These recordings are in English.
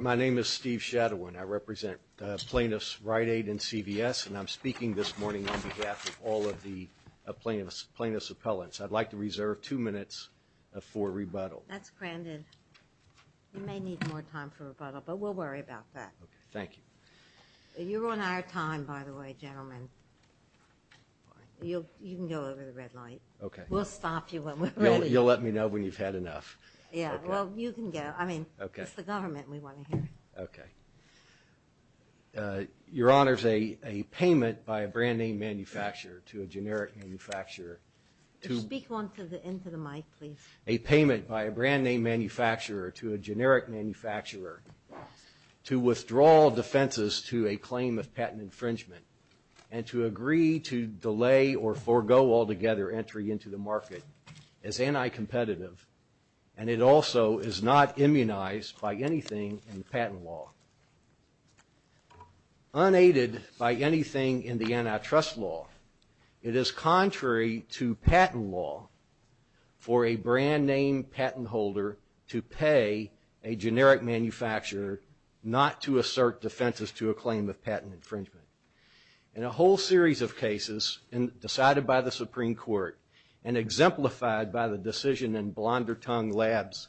My name is Steve Shadowin. I represent plaintiffs Rite Aid and CVS, and I'm speaking this morning on behalf of all of the plaintiffs' appellants. I'd like to reserve two minutes for rebuttal. That's granted. You may need more time for rebuttal, but we'll worry about that. Thank you. You're on our time, by the way, gentlemen. You can go over to the red light. Okay. We'll stop you when we're ready. You'll let me know when you've had enough. Yeah, well, you can go. I mean, it's the government we want to hear. Okay. Your Honors, a payment by a brand-name manufacturer to a generic manufacturer to... Speak into the mic, please. A payment by a brand-name manufacturer to a generic manufacturer to withdraw defenses to a claim of patent infringement and to agree to delay or forego altogether entry into the market is anti-competitive, and it also is not immunized by anything in patent law. Unaided by anything in the antitrust law, it is contrary to patent law for a brand-name patent holder to pay a generic manufacturer not to assert defenses to a claim of patent infringement. In a whole series of cases decided by the Supreme Court and exemplified by the decision in Blondertongue Labs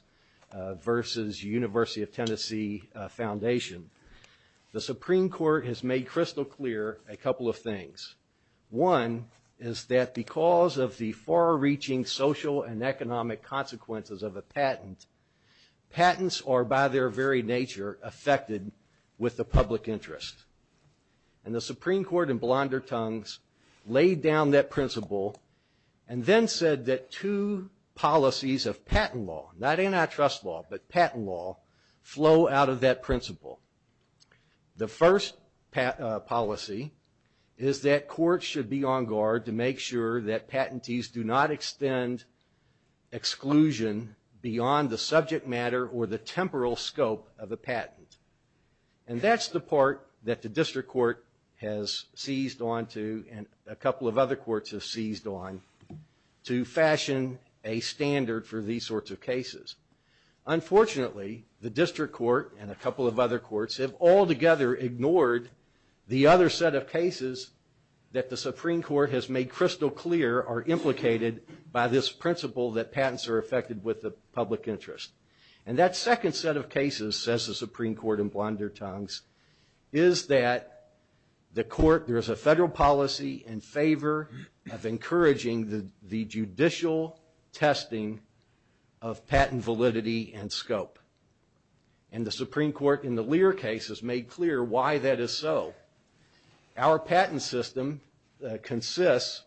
versus University of Tennessee Foundation, the Supreme Court has made crystal clear a couple of things. One is that because of the far-reaching social and economic consequences of a patent, patents are by their very nature affected with the public interest. And the Supreme Court in Blondertongue's laid down that principle and then said that two policies of patent law, not antitrust law, but patent law, flow out of that principle. The first policy is that courts should be on guard to make sure that patentees do not extend exclusion beyond the subject matter or the temporal scope of the patent. And that's the part that the district court has seized onto and a couple of other courts have seized on to fashion a standard for these sorts of cases. Unfortunately, the district court and a couple of other courts have altogether ignored the other set of cases that the Supreme Court has made crystal clear are implicated by this principle that patents are affected with the public interest. And that second set of cases, says the Supreme Court in Blondertongue's, is that there is a federal policy in favor of encouraging the judicial testing of patent validity and scope. And the Supreme Court in the Lear case has made clear why that is so. Our patent system consists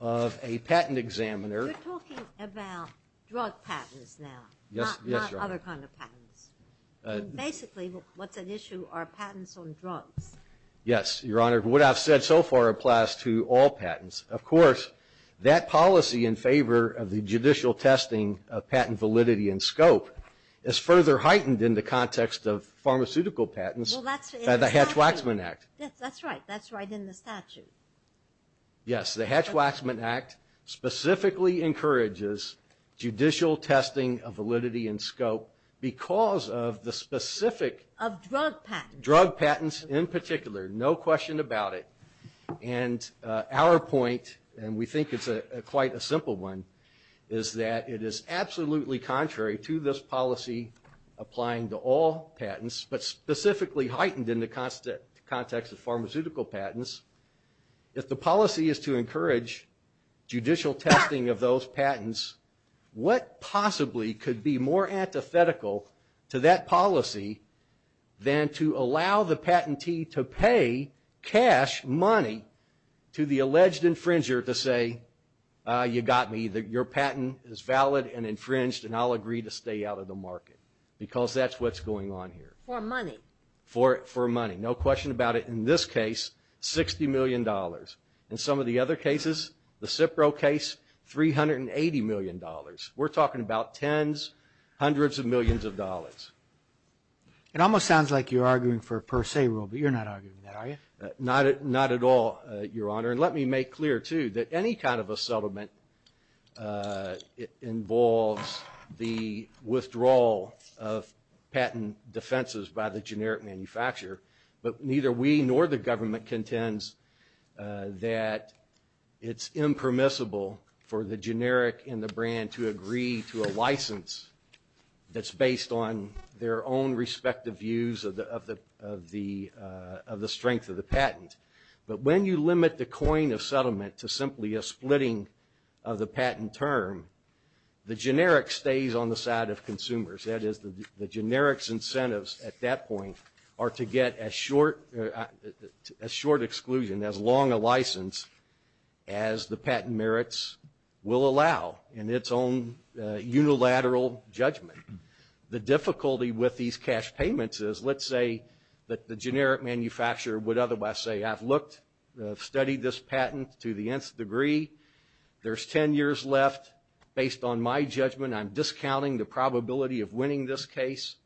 of a patent examiner. We're talking about drug patents now, not other kinds of patents. Basically what's at issue are patents on drugs. Yes, Your Honor. What I've said so far applies to all patents. Of course, that policy in favor of the judicial testing of patent validity and scope is further heightened in the context of pharmaceutical patents by the Hatch-Waxman Act. Yes, that's right. That's right in the statute. Yes, the Hatch-Waxman Act specifically encourages judicial testing of validity and scope because of the specific drug patents in particular, no question about it. And our point, and we think it's quite a simple one, is that it is absolutely contrary to this policy applying to all patents, but specifically heightened in the context of pharmaceutical patents. If the policy is to encourage judicial testing of those patents, what possibly could be more antithetical to that policy than to allow the patentee to pay cash money to the alleged infringer to say, you got me, your patent is valid and infringed and I'll agree to stay out of the market? Because that's what's going on here. For money. For money. No question about it. In this case, $60 million. In some of the other cases, the Cipro case, $380 million. We're talking about tens, hundreds of millions of dollars. It almost sounds like you're arguing for a per se rule, but you're not arguing that, are you? Not at all, Your Honor. And let me make clear, too, that any kind of a settlement involves the withdrawal of patent defenses by the generic manufacturer, but neither we nor the government contends that it's impermissible for the generic and the brand to agree to a license that's based on their own respective views of the strength of the patent. But when you limit the coin of settlement to simply a splitting of the patent term, the generic stays on the side of consumers. What I've said is the generic's incentives at that point are to get a short exclusion, as long a license as the patent merits will allow in its own unilateral judgment. The difficulty with these cash payments is, let's say that the generic manufacturer would otherwise say, I've looked, studied this patent to the nth degree. There's 10 years left. Based on my judgment, I'm discounting the probability of winning this case.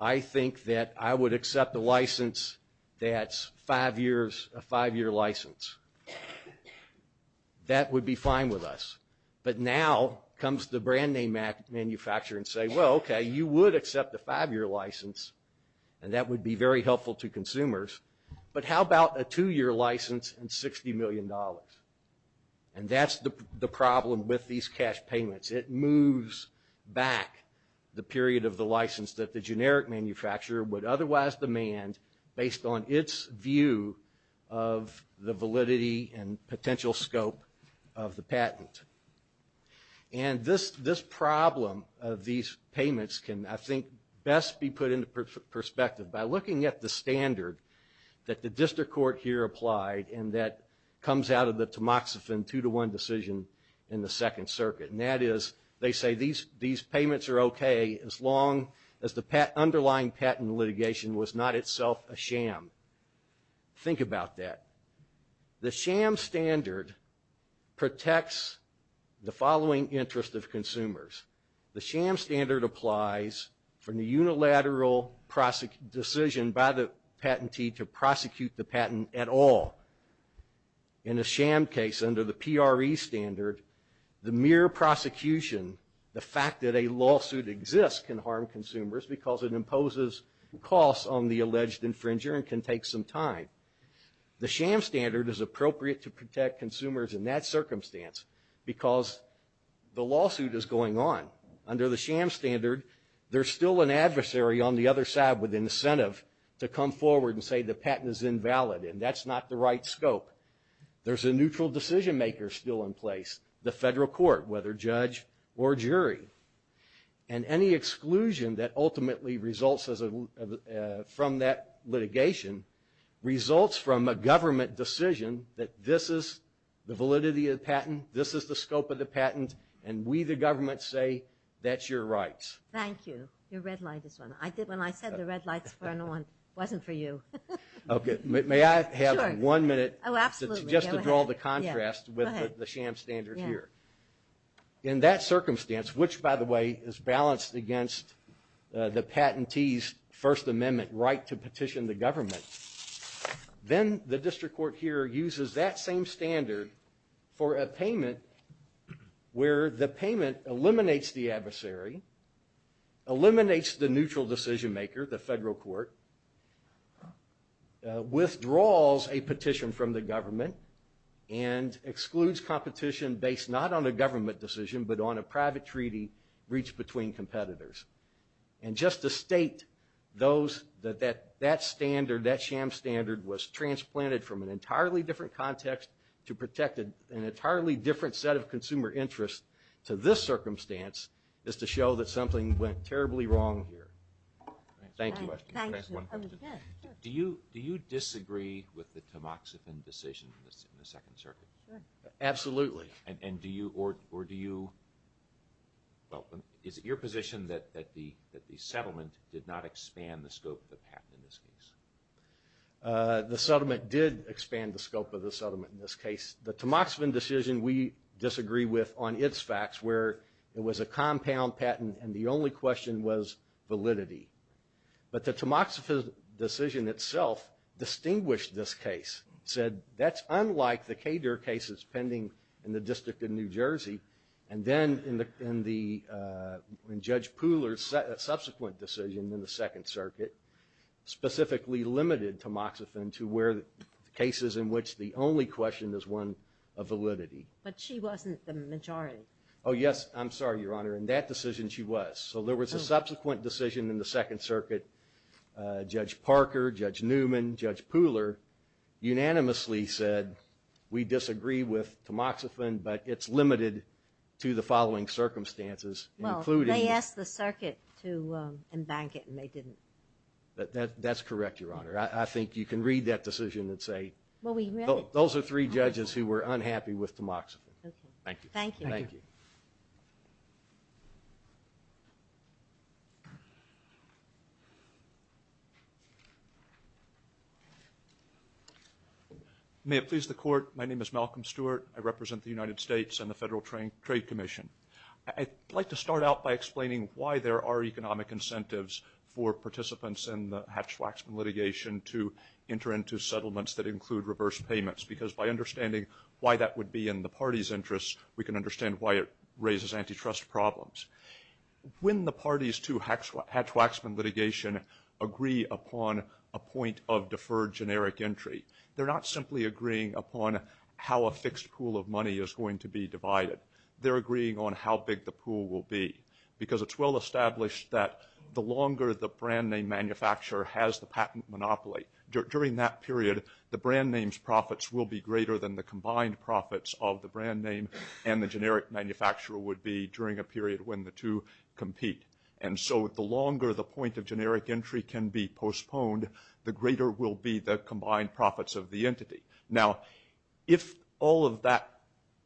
I think that I would accept a license that's a five-year license. That would be fine with us. But now comes the brand name manufacturer and say, well, okay, you would accept a five-year license, and that would be very helpful to consumers. But how about a two-year license and $60 million? And that's the problem with these cash payments. It moves back the period of the license that the generic manufacturer would otherwise demand based on its view of the validity and potential scope of the patent. And this problem of these payments can, I think, best be put into perspective by looking at the standard that the district court here applied and that comes out of the tamoxifen two-to-one decision in the Second Circuit. And that is, they say these payments are okay as long as the underlying patent litigation was not itself a sham. Think about that. The sham standard protects the following interest of consumers. The sham standard applies from the unilateral decision by the patentee to prosecute the patent at all. In a sham case under the PRE standard, the mere prosecution, the fact that a lawsuit exists can harm consumers because it imposes costs on the alleged infringer and can take some time. The sham standard is appropriate to protect consumers in that circumstance because the lawsuit is going on. Under the sham standard, there's still an adversary on the other side with incentive to come forward and say the patent is invalid, and that's not the right scope. There's a neutral decision maker still in place, the federal court, whether judge or jury. And any exclusion that ultimately results from that litigation results from a government decision that this is the validity of the patent, this is the scope of the patent, and we, the government, say that's your rights. Thank you. Your red light is on. When I said the red light was on, it wasn't for you. Okay. May I have one minute just to draw the contrast with the sham standard here? Yes, go ahead. In that circumstance, which, by the way, is balanced against the patentee's First Amendment right to petition the government, then the district court here uses that same standard for a payment where the payment eliminates the adversary, eliminates the neutral decision maker, the federal court, withdraws a petition from the government, and excludes competition based not on a government decision but on a private treaty reached between competitors. And just to state that that standard, that sham standard, was transplanted from an entirely different context to protect an entirely different set of consumer interests to this circumstance is to show that something went terribly wrong here. Thank you. Do you disagree with the Tamoxifen decision in the Second Circuit? Absolutely. And do you, or do you, is it your position that the settlement did not expand the scope of the patent in this case? The settlement did expand the scope of the settlement in this case. The Tamoxifen decision we disagree with on its facts where it was a compound patent and the only question was validity. But the Tamoxifen decision itself distinguished this case. It said that's unlike the Kader cases pending in the District of New Jersey. And then in Judge Pooler's subsequent decision in the Second Circuit, specifically limited Tamoxifen to where cases in which the only question is one of validity. But she wasn't the majority. Oh, yes. I'm sorry, Your Honor. In that decision she was. So there was a subsequent decision in the Second Circuit. Judge Parker, Judge Newman, Judge Pooler unanimously said we disagree with Tamoxifen, but it's limited to the following circumstances, including… Well, they asked the circuit to embank it and they didn't. That's correct, Your Honor. I think you can read that decision and say… Well, we read it. Those are three judges who were unhappy with Tamoxifen. Thank you. Thank you. Thank you. May it please the Court, my name is Malcolm Stewart. I represent the United States and the Federal Trade Commission. I'd like to start out by explaining why there are economic incentives for participants in the Hatch-Waxman litigation to enter into settlements that include reverse payments, because by understanding why that would be in the party's interest, we can understand why it raises antitrust problems. When the parties to Hatch-Waxman litigation agree upon a point of deferred generic entry, they're not simply agreeing upon how a fixed pool of money is going to be divided. They're agreeing on how big the pool will be, because it's well established that the longer the brand name manufacturer has the patent monopoly, during that period, the brand name's profits will be greater than the combined profits of the brand name and the generic manufacturer would be during a period when the two compete. And so the longer the point of generic entry can be postponed, the greater will be the combined profits of the entity. Now, if all of that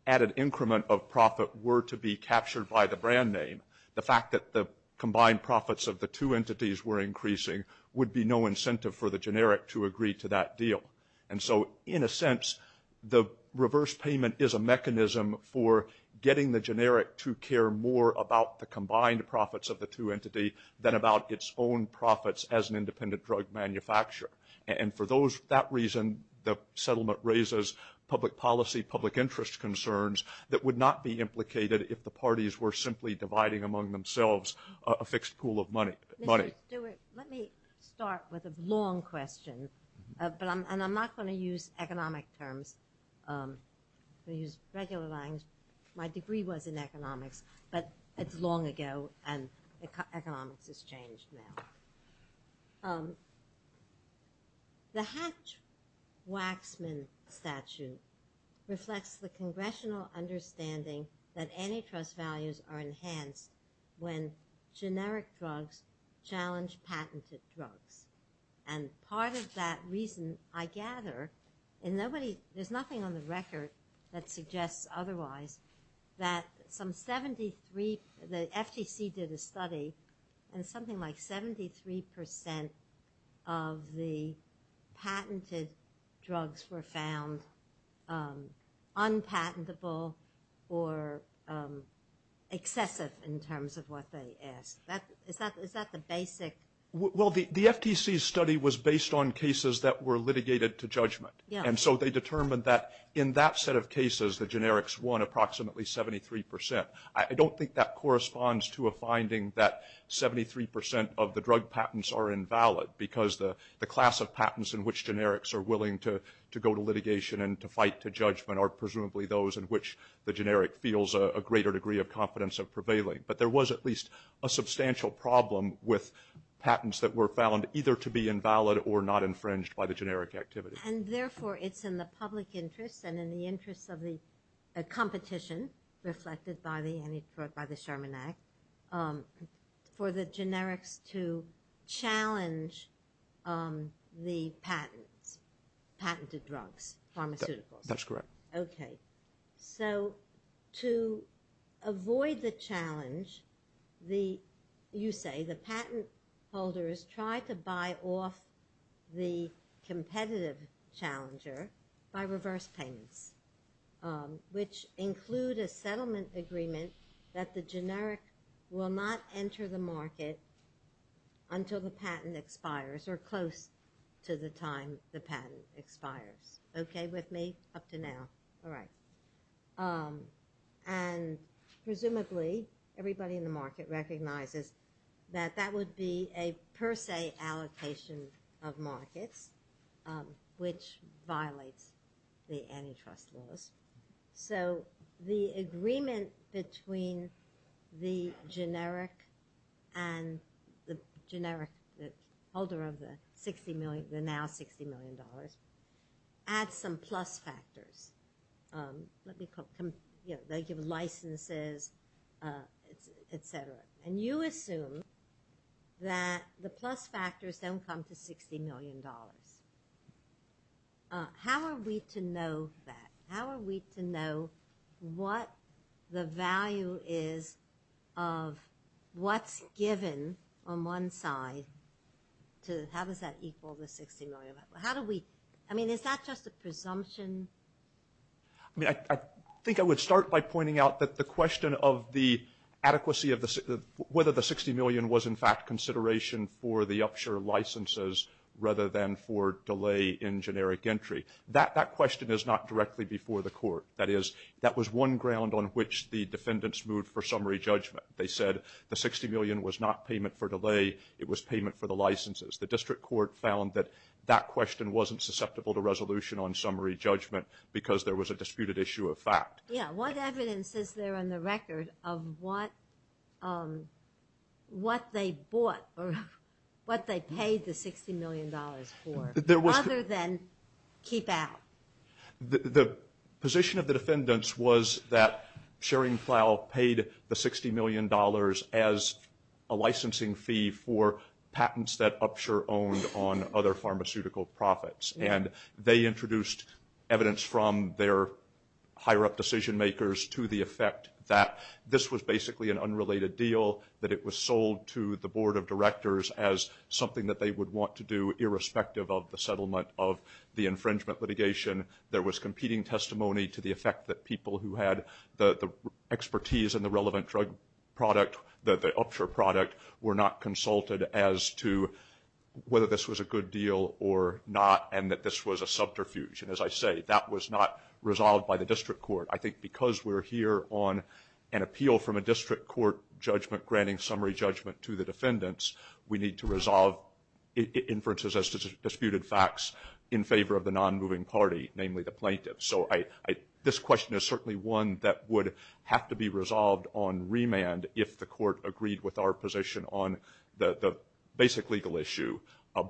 added increment of profit were to be captured by the brand name, the fact that the combined profits of the two entities were increasing would be no incentive for the generic to agree to that deal. And so, in a sense, the reverse payment is a mechanism for getting the generic to care more about the combined profits of the two entities than about its own profits as an independent drug manufacturer. And for that reason, the settlement raises public policy, public interest concerns that would not be implicated if the parties were simply dividing among themselves a fixed pool of money. Mr. Stewart, let me start with a long question, and I'm not going to use economic terms. I'll use regular lines. My degree was in economics, but it's long ago and economics has changed now. The Hatch-Waxman statute reflects the congressional understanding that antitrust values are enhanced when generic drugs challenge patented drugs. And part of that reason, I gather, and there's nothing on the record that suggests otherwise, that the FCC did a study and something like 73% of the patented drugs were found unpatentable or excessive in terms of what they asked. Is that the basic? Well, the FTC's study was based on cases that were litigated to judgment. And so they determined that in that set of cases, the generics won approximately 73%. I don't think that corresponds to a finding that 73% of the drug patents are invalid because the class of patents in which generics are willing to go to litigation and to fight to judgment are presumably those in which the generic feels a greater degree of confidence of prevailing. But there was at least a substantial problem with patents that were found either to be invalid or not infringed by the generic activity. And therefore, it's in the public interest and in the interest of the competition, reflected by the Sherman Act, for the generic to challenge the patent, patented drugs, pharmaceuticals. That's correct. Okay. So to avoid the challenge, you say the patent holders try to buy off the competitive challenger by reverse payments, which include a settlement agreement that the generic will not enter the market until the patent expires or close to the time the patent expires. Okay with me? Up to now. All right. And presumably, everybody in the market recognizes that that would be a per se allocation of market, which violates the antitrust law. So the agreement between the generic and the generic holder of the $60 million, the now $60 million, adds some plus factors. Let me call them, you know, they give licenses, et cetera. And you assume that the plus factors don't come to $60 million. How are we to know that? How are we to know what the value is of what's given on one side? How does that equal the $60 million? I mean, is that just a presumption? I mean, I think I would start by pointing out that the question of the adequacy of whether the $60 million was, in fact, consideration for the upshare licenses rather than for delay in generic entry. That question is not directly before the court. That is, that was one ground on which the defendants moved for summary judgment. They said the $60 million was not payment for delay. It was payment for the licenses. The district court found that that question wasn't susceptible to resolution on summary judgment because there was a disputed issue of fact. Yeah, what evidence is there on the record of what they bought or what they paid the $60 million for other than keep out? The position of the defendants was that Scheringflau paid the $60 million as a licensing fee for patents that Upshure owned on other pharmaceutical profits. And they introduced evidence from their higher-up decision makers to the effect that this was basically an unrelated deal, that it was sold to the board of directors as something that they would want to do irrespective of the settlement of the infringement litigation. There was competing testimony to the effect that people who had the expertise in the relevant drug product, the Upshure product, were not consulted as to whether this was a good deal or not and that this was a subterfuge. And as I say, that was not resolved by the district court. I think because we're here on an appeal from a district court judgment granting summary judgment to the defendants, we need to resolve inferences as to disputed facts in favor of the non-moving party, namely the plaintiffs. So this question is certainly one that would have to be resolved on remand if the court agreed with our position on the basic legal issue.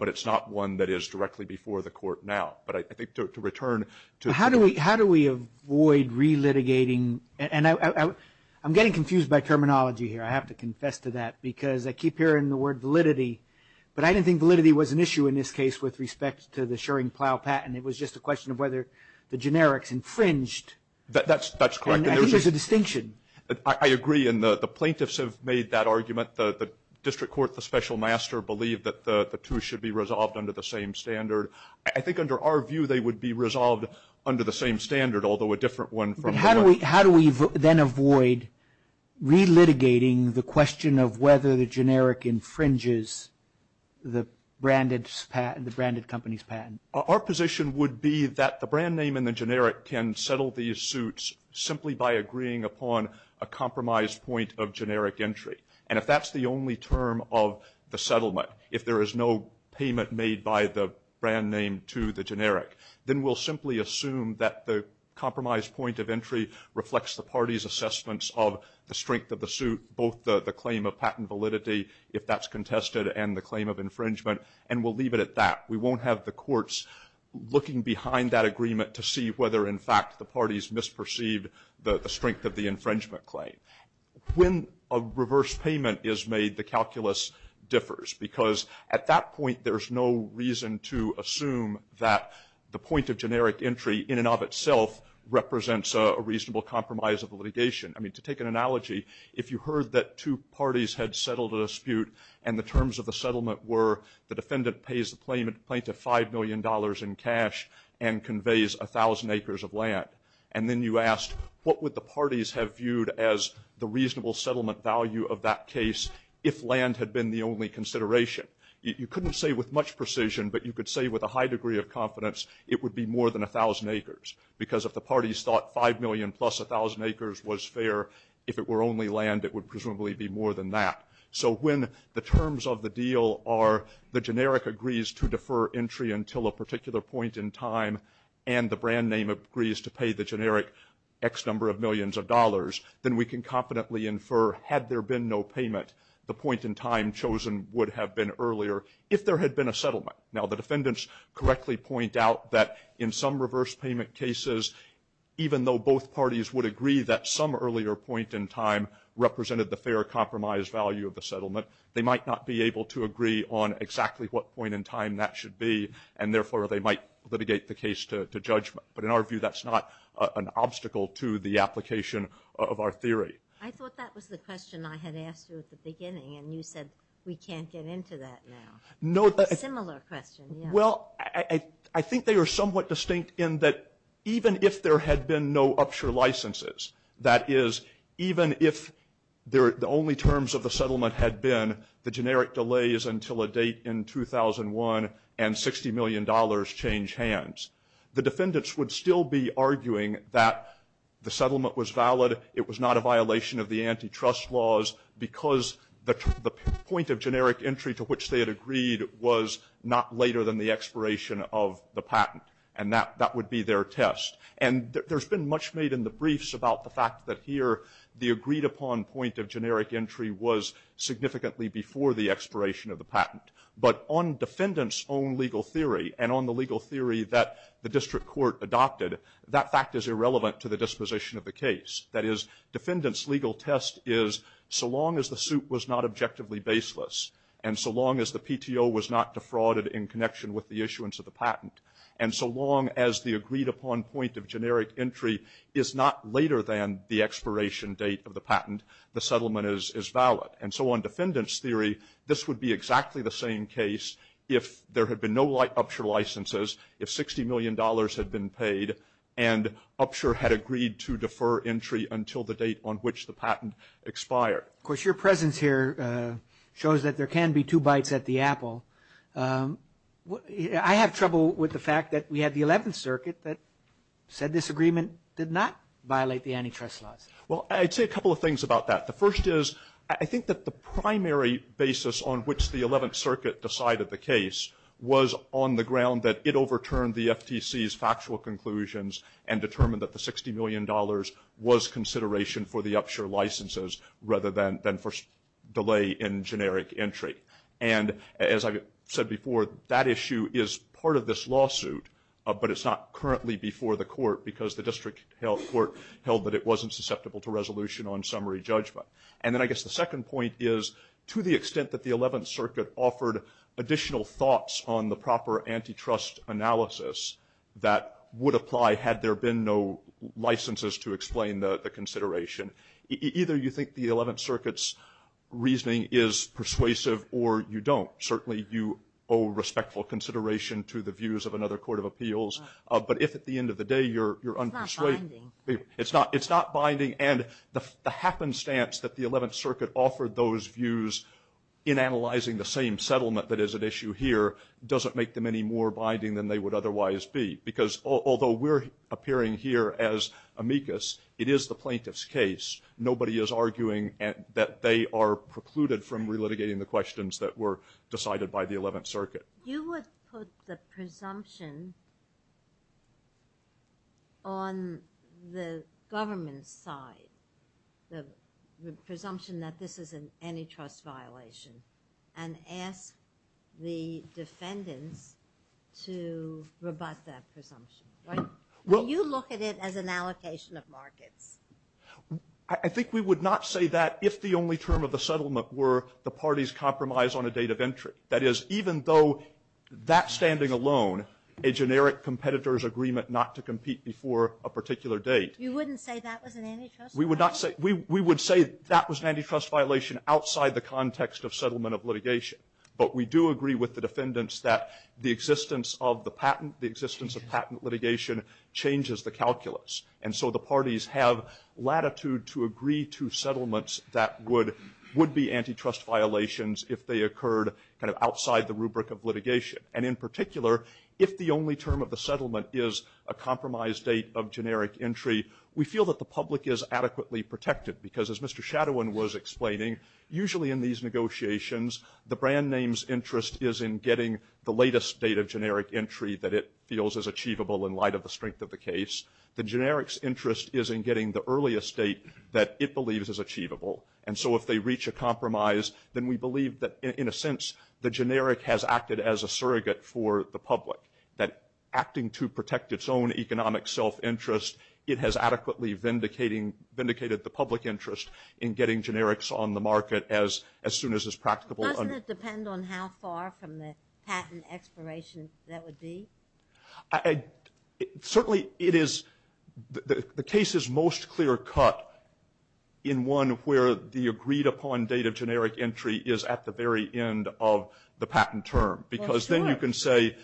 But it's not one that is directly before the court now. But I think to return to – How do we avoid relitigating – and I'm getting confused by terminology here. I have to confess to that because I keep hearing the word validity. But I didn't think validity was an issue in this case with respect to the Shering Plow patent. It was just a question of whether the generics infringed. That's correct. And I think there's a distinction. I agree. And the plaintiffs have made that argument. The district court, the special master, believed that the two should be resolved under the same standard. I think under our view, they would be resolved under the same standard, although a different one from – How do we then avoid relitigating the question of whether the generic infringes the branded company's patent? Our position would be that the brand name and the generic can settle these suits simply by agreeing upon a compromised point of generic entry. And if that's the only term of the settlement, if there is no payment made by the brand name to the generic, then we'll simply assume that the compromised point of entry reflects the party's assessments of the strength of the suit, both the claim of patent validity, if that's contested, and the claim of infringement, and we'll leave it at that. We won't have the courts looking behind that agreement to see whether, in fact, the parties misperceived the strength of the infringement claim. When a reverse payment is made, the calculus differs, because at that point, there's no reason to assume that the point of generic entry in and of itself represents a reasonable compromise of litigation. I mean, to take an analogy, if you heard that two parties had settled a dispute and the terms of the settlement were the defendant pays the plaintiff $5 million in cash and conveys 1,000 acres of land, and then you asked, what would the parties have viewed as the reasonable settlement value of that case if land had been the only consideration? You couldn't say with much precision, but you could say with a high degree of confidence it would be more than 1,000 acres, because if the parties thought 5 million plus 1,000 acres was fair, if it were only land, it would presumably be more than that. So when the terms of the deal are the generic agrees to defer entry until a particular point in time, and the brand name agrees to pay the generic X number of millions of dollars, then we can confidently infer, had there been no payment, the point in time chosen would have been earlier if there had been a settlement. Now, the defendants correctly point out that in some reverse payment cases, even though both parties would agree that some earlier point in time represented the fair compromise value of the settlement, they might not be able to agree on exactly what point in time that should be, and therefore they might litigate the case to judgment. But in our view, that's not an obstacle to the application of our theory. I thought that was the question I had asked you at the beginning, and you said, we can't get into that now. No. A similar question. Well, I think they were somewhat distinct in that even if there had been no upshare licenses, that is, even if the only terms of the settlement had been the generic delays until a date in 2001 and $60 million change hands, the defendants would still be arguing that the settlement was valid, it was not a violation of the antitrust laws because the point of generic entry to which they had agreed was not later than the expiration of the patent, and that would be their test. And there's been much made in the briefs about the fact that here the agreed-upon point of generic entry was significantly before the expiration of the patent. But on defendants' own legal theory and on the legal theory that the district court adopted, that fact is irrelevant to the disposition of the case. That is, defendants' legal test is so long as the suit was not objectively baseless and so long as the PTO was not defrauded in connection with the issuance of the patent and so long as the agreed-upon point of generic entry is not later than the expiration date of the patent, the settlement is valid. And so on defendants' theory, this would be exactly the same case if there had been no upshare licenses, if $60 million had been paid and upshare had agreed to defer entry until the date on which the patent expired. Of course, your presence here shows that there can be two bites at the apple. I have trouble with the fact that we had the 11th Circuit that said this agreement did not violate the antitrust laws. Well, I'd say a couple of things about that. The first is I think that the primary basis on which the 11th Circuit decided the case was on the ground that it overturned the FTC's factual conclusions and determined that the $60 million was consideration for the upshare licenses rather than for delay in generic entry. And as I said before, that issue is part of this lawsuit, but it's not currently before the court because the district court held that it wasn't susceptible to resolution on summary judgment. And then I guess the second point is to the extent that the 11th Circuit offered additional thoughts on the proper antitrust analysis that would apply had there been no licenses to explain the consideration, either you think the 11th Circuit's reasoning is persuasive or you don't. Certainly, you owe respectful consideration to the views of another court of appeals. But if at the end of the day you're unpersuasive— It's not binding. It's not binding. And the happenstance that the 11th Circuit offered those views in analyzing the same settlement that is at issue here doesn't make them any more binding than they would otherwise be. Because although we're appearing here as amicus, it is the plaintiff's case. Nobody is arguing that they are precluded from relitigating the questions that were decided by the 11th Circuit. You would put the presumption on the government's side, the presumption that this is an antitrust violation, and ask the defendant to rebut that presumption, right? Would you look at it as an allocation of markets? I think we would not say that if the only term of the settlement were the party's compromise on a date of entry. That is, even though that standing alone, a generic competitor's agreement not to compete before a particular date— You wouldn't say that was an antitrust violation? We would say that was an antitrust violation outside the context of settlement of litigation. But we do agree with the defendants that the existence of the patent, the existence of patent litigation, changes the calculus. And so the parties have latitude to agree to settlements that would be antitrust violations if they occurred outside the rubric of litigation. And in particular, if the only term of the settlement is a compromise date of generic entry, we feel that the public is adequately protected. Because as Mr. Shadowin was explaining, usually in these negotiations, the brand name's interest is in getting the latest date of generic entry that it feels is achievable in light of the strength of the case. The generic's interest is in getting the earliest date that it believes is achievable. And so if they reach a compromise, then we believe that, in a sense, the generic has acted as a surrogate for the public. That acting to protect its own economic self-interest, it has adequately vindicated the public interest in getting generics on the market as soon as is practicable. Doesn't it depend on how far from the patent expiration that would be? Certainly, the case is most clear-cut in one where the agreed-upon date of generic entry is at the very end of the patent term. Because then you can say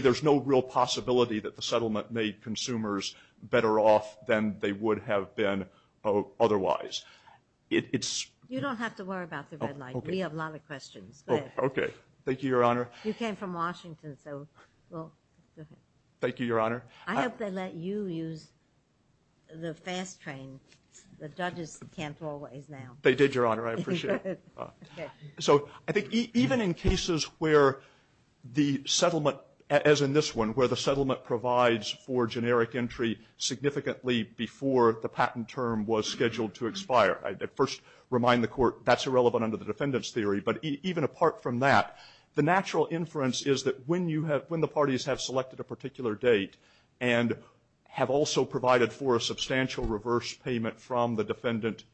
there's no real possibility that the settlement made consumers better off than they would have been otherwise. You don't have to worry about the deadline. We have a lot of questions. This came from Washington. Thank you, Your Honor. I hope they let you use the fast train. The judges can't go away now. They did, Your Honor. I appreciate it. So I think even in cases where the settlement, as in this one, where the settlement provides for generic entry significantly before the patent term was scheduled to expire. I first remind the court that's irrelevant under the defendant's theory. But even apart from that, the natural inference is that when the parties have selected a particular date and have also provided for a substantial reverse payment from the brand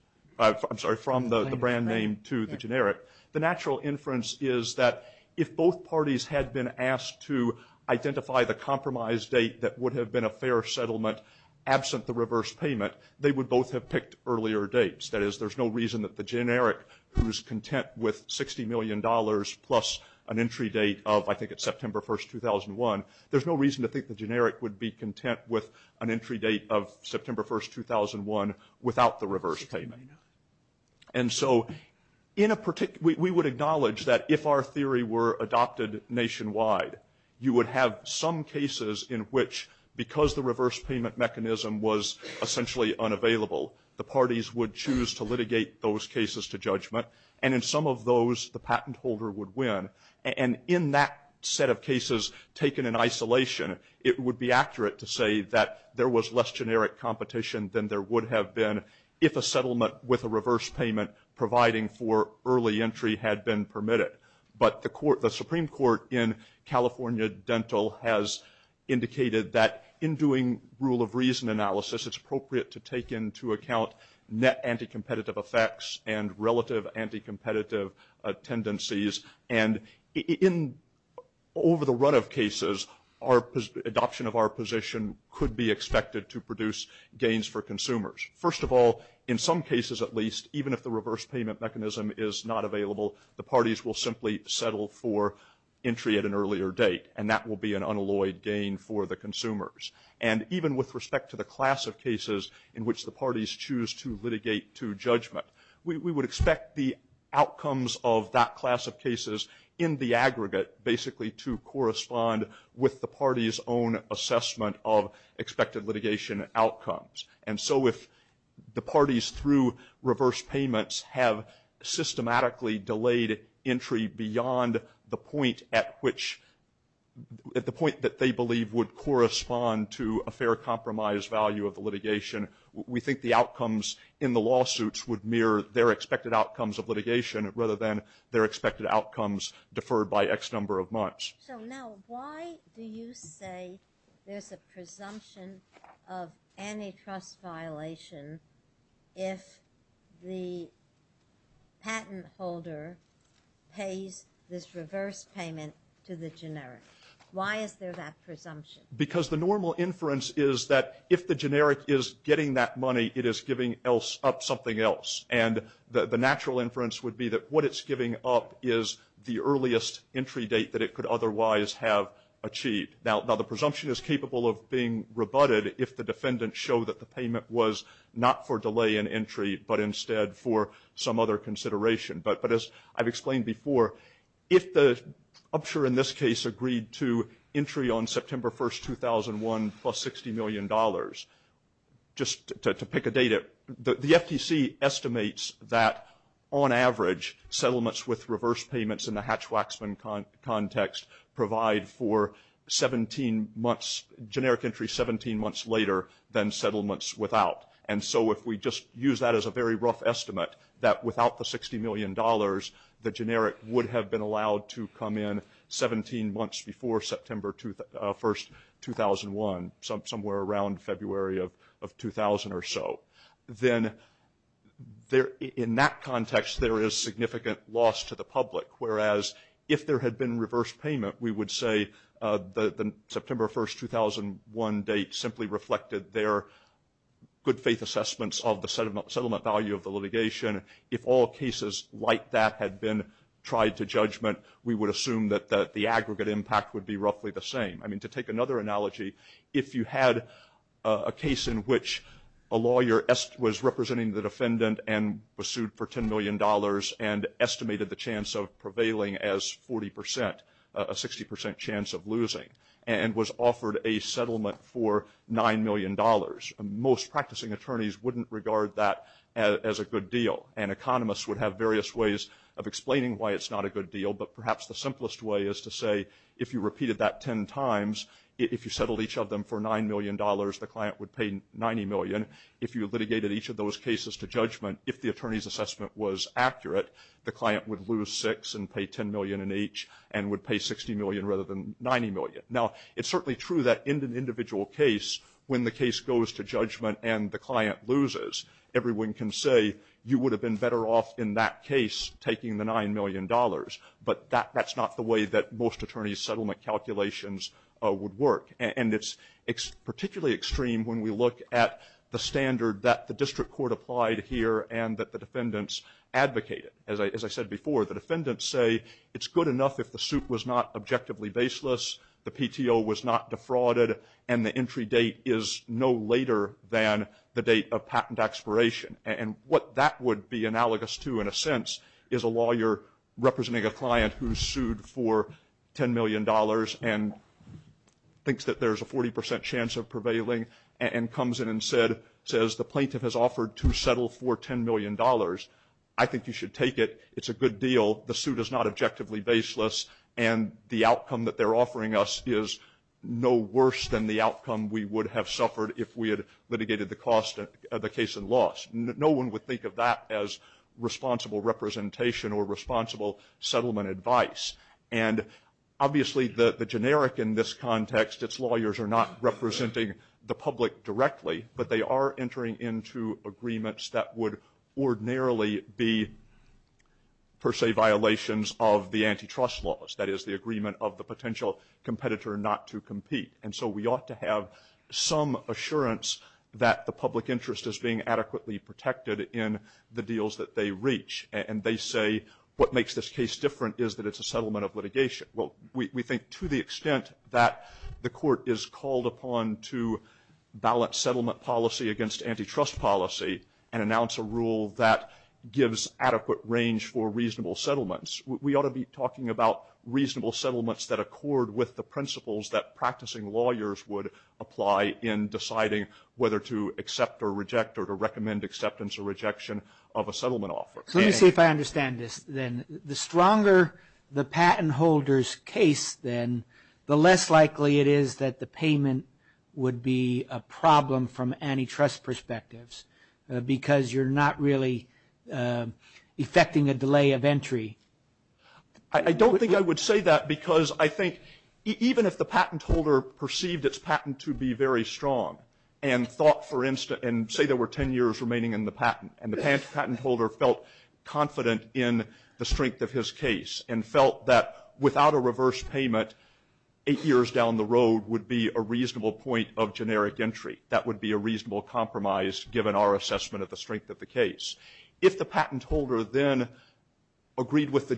name to the generic, the natural inference is that if both parties had been asked to identify the compromise date that would have been a fair settlement absent the reverse payment, they would both have picked earlier dates. That is, there's no reason that the generic, who's content with $60 million plus an entry date of I think it's September 1st, 2001, there's no reason to think the generic would be content with an entry date of September 1st, 2001 without the reverse payment. And so we would acknowledge that if our theory were adopted nationwide, you would have some cases in which, because the reverse payment mechanism was essentially unavailable, the parties would choose to litigate those cases to judgment. And in some of those, the patent holder would win. And in that set of cases taken in isolation, it would be accurate to say that there was less generic competition than there would have been if a settlement with a reverse payment providing for early entry had been permitted. But the Supreme Court in California Dental has indicated that in doing rule of reason analysis, it's appropriate to take into account net anti-competitive effects and relative anti-competitive tendencies. And in over the run of cases, adoption of our position could be expected to produce gains for consumers. First of all, in some cases at least, even if the reverse payment mechanism is not available, the parties will simply settle for entry at an earlier date, and that will be an unalloyed gain for the consumers. And even with respect to the class of cases in which the parties choose to litigate to judgment, we would expect the outcomes of that class of cases in the aggregate basically to correspond with the parties' own assessment of expected litigation outcomes. And so if the parties through reverse payments have systematically delayed entry beyond the point that they believe would correspond to a fair compromise value of the litigation, we think the outcomes in the lawsuits would mirror their expected outcomes of litigation rather than their expected outcomes deferred by X number of months. So now why do you say there's a presumption of antitrust violation if the patent holder pays this reverse payment to the generic? Why is there that presumption? Because the normal inference is that if the generic is getting that money, it is giving up something else. And the natural inference would be that what it's giving up is the earliest entry date that it could otherwise have achieved. Now, the presumption is capable of being rebutted if the defendant showed that the payment was not for delay in entry but instead for some other consideration. But as I've explained before, if the upsurge in this case agreed to entry on September 1, 2001, plus $60 million, just to pick a data, the FTC estimates that on average, settlements with reverse payments in the Hatch-Waxman context provide for generic entry 17 months later than settlements without. And so if we just use that as a very rough estimate, that without the $60 million, the generic would have been allowed to come in 17 months before September 1, 2001, somewhere around February of 2000 or so. Then in that context, there is significant loss to the public, whereas if there had been reverse payment, we would say the September 1, 2001 date simply reflected their good faith assessments of the settlement value of the litigation. If all cases like that had been tried to judgment, we would assume that the aggregate impact would be roughly the same. I mean, to take another analogy, if you had a case in which a lawyer was representing the defendant and was sued for $10 million and estimated the chance of prevailing as 40 percent, a 60 percent chance of losing, and was offered a settlement for $9 million, most practicing attorneys wouldn't regard that as a good deal. And economists would have various ways of explaining why it's not a good deal, but perhaps the simplest way is to say if you repeated that 10 times, if you settled each of them for $9 million, the client would pay $90 million. If you litigated each of those cases to judgment, if the attorney's assessment was accurate, the client would lose six and pay $10 million in each and would pay $60 million rather than $90 million. Now, it's certainly true that in an individual case, when the case goes to judgment and the client loses, everyone can say you would have been better off in that case taking the $9 million, but that's not the way that most attorney settlement calculations would work. And it's particularly extreme when we look at the standard that the district court applied here and that the defendants advocated. As I said before, the defendants say it's good enough if the suit was not objectively baseless, the PTO was not defrauded, and the entry date is no later than the date of patent expiration. And what that would be analogous to in a sense is a lawyer representing a client who sued for $10 million and thinks that there's a 40 percent chance of prevailing and comes in and says the plaintiff has offered to settle for $10 million. I think you should take it. It's a good deal. The suit is not objectively baseless, and the outcome that they're offering us is no worse than the outcome we would have suffered if we had litigated the cost of the case and lost. No one would think of that as responsible representation or responsible settlement advice. And obviously the generic in this context, its lawyers are not representing the public directly, but they are entering into agreements that would ordinarily be per se violations of the antitrust laws. That is the agreement of the potential competitor not to compete. And so we ought to have some assurance that the public interest is being adequately protected in the deals that they reach. And they say what makes this case different is that it's a settlement of litigation. Well, we think to the extent that the court is called upon to balance settlement policy against antitrust policy and announce a rule that gives adequate range for reasonable settlements, we ought to be talking about reasonable settlements that accord with the principles that practicing lawyers would apply in deciding whether to accept or reject or to recommend acceptance or rejection of a settlement offer. Let me see if I understand this then. The stronger the patent holder's case then, the less likely it is that the payment would be a problem from antitrust perspectives because you're not really effecting a delay of entry. I don't think I would say that because I think even if the patent holder perceived its patent to be very strong and thought, for instance, and say there were 10 years remaining in the patent and the patent holder felt confident in the strength of his case and felt that without a reverse payment, eight years down the road would be a reasonable point of generic entry. That would be a reasonable compromise given our assessment of the strength of the case. If the patent holder then agreed that the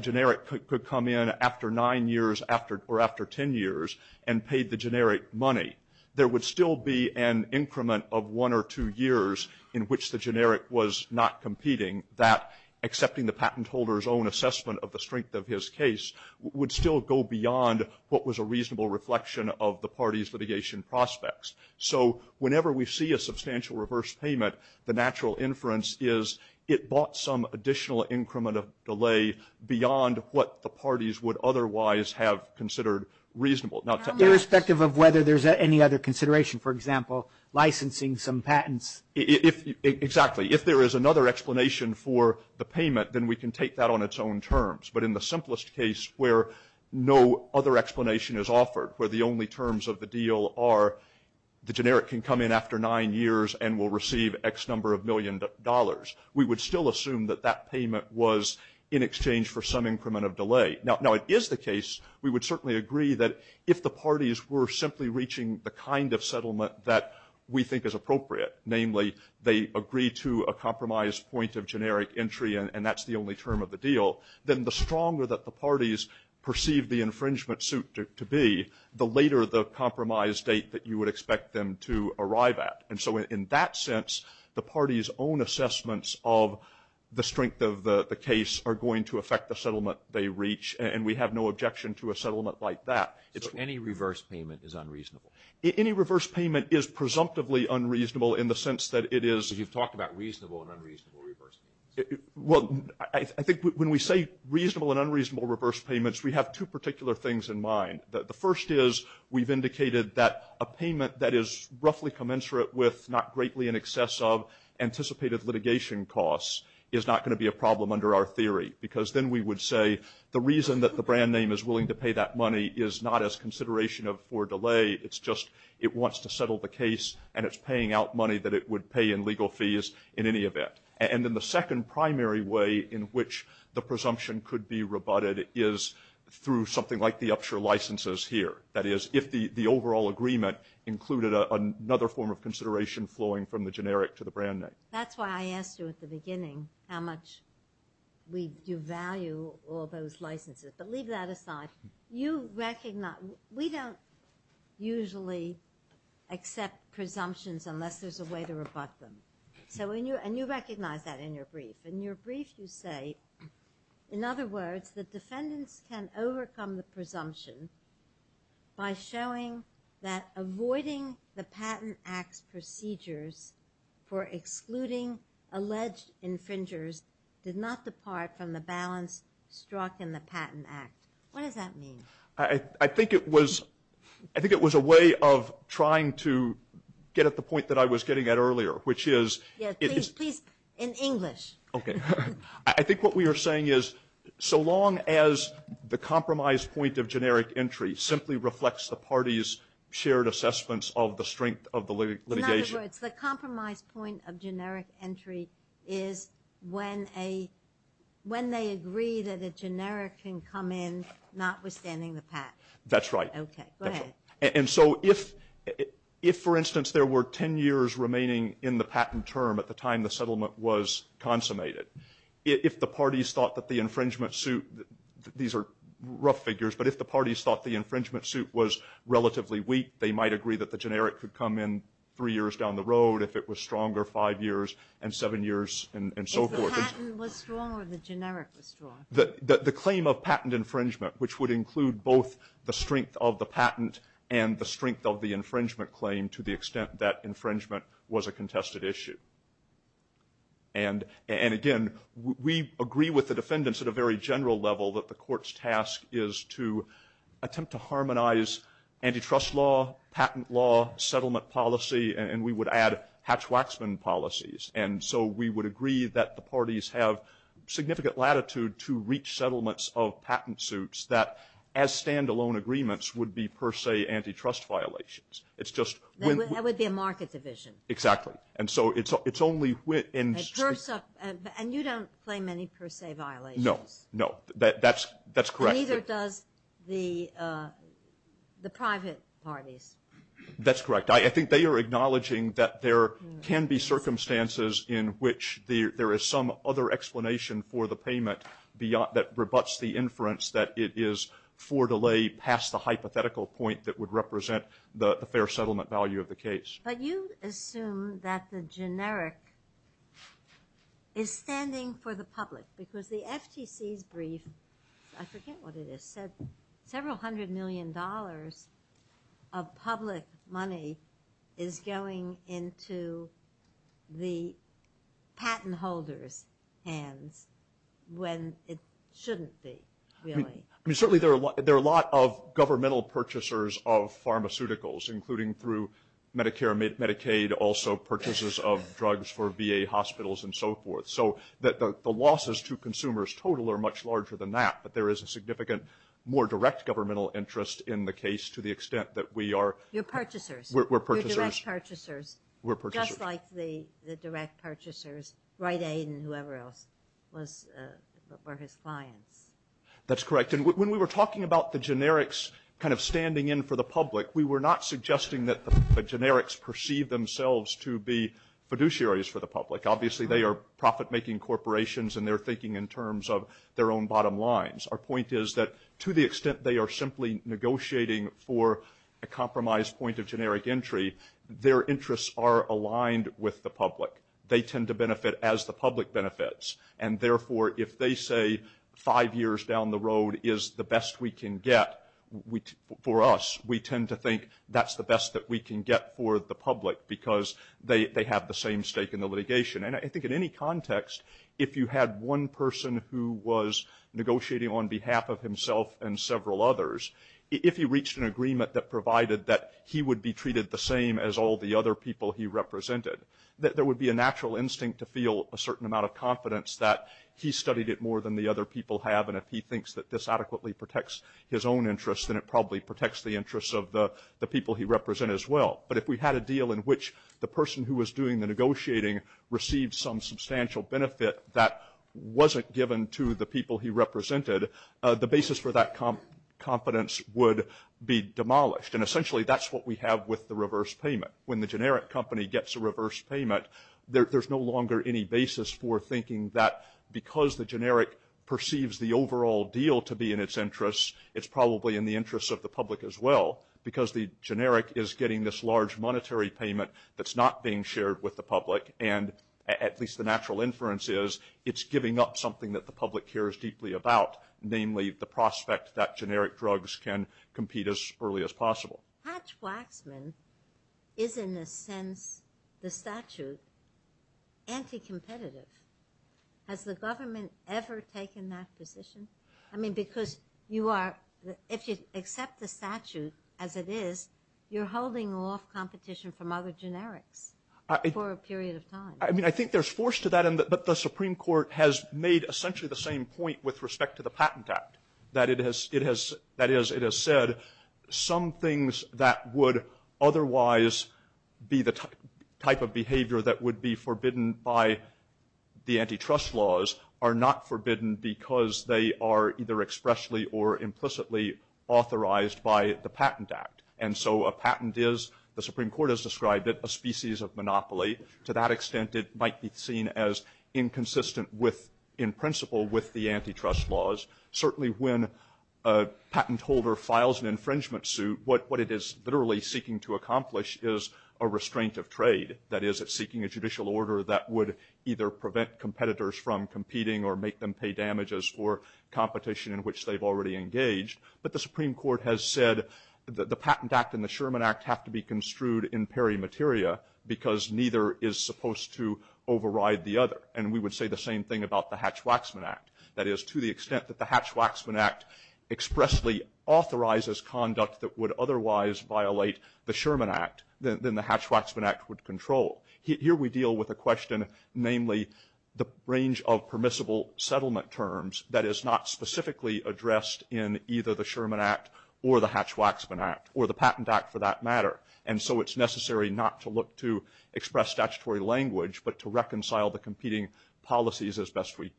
generic could come in after nine years or after 10 years and paid the generic money, there would still be an increment of one or two years in which the generic was not competing that accepting the patent holder's own assessment of the strength of his case would still go beyond what was a reasonable reflection of the party's litigation prospects. Whenever we see a substantial reverse payment, the natural inference is it bought some additional increment of delay beyond what the parties would otherwise have considered reasonable. Irrespective of whether there's any other consideration, for example, licensing some patents. Exactly. If there is another explanation for the payment, then we can take that on its own terms. But in the simplest case where no other explanation is offered, where the only terms of the deal are the generic can come in after nine years and will receive X number of million dollars, we would still assume that that payment was in exchange for some increment of delay. Now, it is the case we would certainly agree that if the parties were simply reaching the kind of settlement that we think is appropriate, namely they agree to a compromise point of generic entry and that's the only term of the deal, then the stronger that the parties perceive the infringement suit to be, the later the compromise date that you would expect them to arrive at. And so in that sense, the parties' own assessments of the strength of the case are going to affect the settlement they reach, and we have no objection to a settlement like that. Any reverse payment is unreasonable. Any reverse payment is presumptively unreasonable in the sense that it is— You've talked about reasonable and unreasonable reverse payments. Well, I think when we say reasonable and unreasonable reverse payments, we have two particular things in mind. The first is we've indicated that a payment that is roughly commensurate with not greatly in excess of anticipated litigation costs is not going to be a problem under our theory, because then we would say the reason that the brand name is willing to pay that money is not as consideration for delay. It's just it wants to settle the case, and it's paying out money that it would pay in legal fees in any event. And then the second primary way in which the presumption could be rebutted is through something like the Upshur licenses here, that is, if the overall agreement included another form of consideration flowing from the generic to the brand name. That's why I asked you at the beginning how much you value all those licenses. But leave that aside. You recognize—we don't usually accept presumptions unless there's a way to rebut them. And you recognize that in your brief. In your brief, you say, in other words, the defendants can overcome the presumption by showing that avoiding the Patent Act procedures for excluding alleged infringers did not depart from the balance struck in the Patent Act. What does that mean? I think it was a way of trying to get at the point that I was getting at earlier, which is— Yes, please speak in English. Okay. I think what we are saying is so long as the compromise point of generic entry simply reflects the parties' shared assessments of the strength of the litigation— That's right. Okay, go ahead. And so if, for instance, there were 10 years remaining in the patent term at the time the settlement was consummated, if the parties thought that the infringement suit—these are rough figures—but if the parties thought the infringement suit was relatively weak, they might agree that the generic could come in three years down the road if it was stronger five years and seven years and so forth. If the patent was strong or the generic was strong? The claim of patent infringement, which would include both the strength of the patent and the strength of the infringement claim to the extent that infringement was a contested issue. And again, we agree with the defendants at a very general level that the court's task is to attempt to harmonize antitrust law, patent law, settlement policy, and we would add hatch-waxman policies. And so we would agree that the parties have significant latitude to reach settlements of patent suits that, as standalone agreements, would be per se antitrust violations. It's just— That would be a market division. Exactly. And so it's only— And you don't claim any per se violations. No, no. That's correct. Neither does the private parties. That's correct. I think they are acknowledging that there can be circumstances in which there is some other explanation for the payment that rebuts the inference that it is for delay past the hypothetical point that would represent the fair settlement value of the case. But you assume that the generic is standing for the public, because the FTC's brief—I forget what it is—says several hundred million dollars of public money is going into the patent holders' hands when it shouldn't be, really. I mean, certainly there are a lot of governmental purchasers of pharmaceuticals, including through Medicare and Medicaid, also purchases of drugs for VA hospitals and so forth. So the losses to consumers total are much larger than that, but there is a significant more direct governmental interest in the case to the extent that we are— You're purchasers. We're purchasers. You're direct purchasers. We're purchasers. Just like the direct purchasers, Rite Aid and whoever else were his clients. That's correct. And when we were talking about the generics kind of standing in for the public, we were not suggesting that the generics perceive themselves to be fiduciaries for the public. Obviously, they are profit-making corporations, and they're thinking in terms of their own bottom lines. Our point is that to the extent they are simply negotiating for a compromise point of generic entry, their interests are aligned with the public. They tend to benefit as the public benefits. And therefore, if they say five years down the road is the best we can get for us, we tend to think that's the best that we can get for the public because they have the same stake in the litigation. And I think in any context, if you had one person who was negotiating on behalf of himself and several others, if he reached an agreement that provided that he would be treated the same as all the other people he represented, that there would be a natural instinct to feel a certain amount of confidence that he studied it more than the other people have, and if he thinks that this adequately protects his own interests, then it probably protects the interests of the people he represented as well. But if we had a deal in which the person who was doing the negotiating received some substantial benefit that wasn't given to the people he represented, the basis for that confidence would be demolished. And essentially, that's what we have with the reverse payment. When the generic company gets a reverse payment, there's no longer any basis for thinking that because the generic perceives the overall deal to be in its interests, it's probably in the interests of the public as well because the generic is getting this large monetary payment that's not being shared with the public. And at least the natural inference is it's giving up something that the public cares deeply about, namely the prospect that generic drugs can compete as early as possible. Hatch-Waxman is in the statute anti-competitive. Has the government ever taken that position? I mean, because if you accept the statute as it is, you're holding off competition from other generics for a period of time. I mean, I think there's force to that, and the Supreme Court has made essentially the same point with respect to the Patent Act. That is, it has said some things that would otherwise be the type of behavior that would be forbidden by the antitrust laws are not forbidden because they are either expressly or implicitly authorized by the Patent Act. And so a patent is, the Supreme Court has described it, a species of monopoly. To that extent, it might be seen as inconsistent with, in principle, with the antitrust laws. Certainly when a patent holder files an infringement suit, what it is literally seeking to accomplish is a restraint of trade. That is, it's seeking a judicial order that would either prevent competitors from competing or make them pay damages for competition in which they've already engaged. But the Supreme Court has said that the Patent Act and the Sherman Act have to be construed in peri materia because neither is supposed to override the other. And we would say the same thing about the Hatch-Waxman Act. That is, to the extent that the Hatch-Waxman Act expressly authorizes conduct that would otherwise violate the Sherman Act, then the Hatch-Waxman Act would control. Here we deal with a question, namely the range of permissible settlement terms that is not specifically addressed in either the Sherman Act or the Hatch-Waxman Act, or the Patent Act for that matter. And so it's necessary not to look to express statutory language but to reconcile the competing policies as best we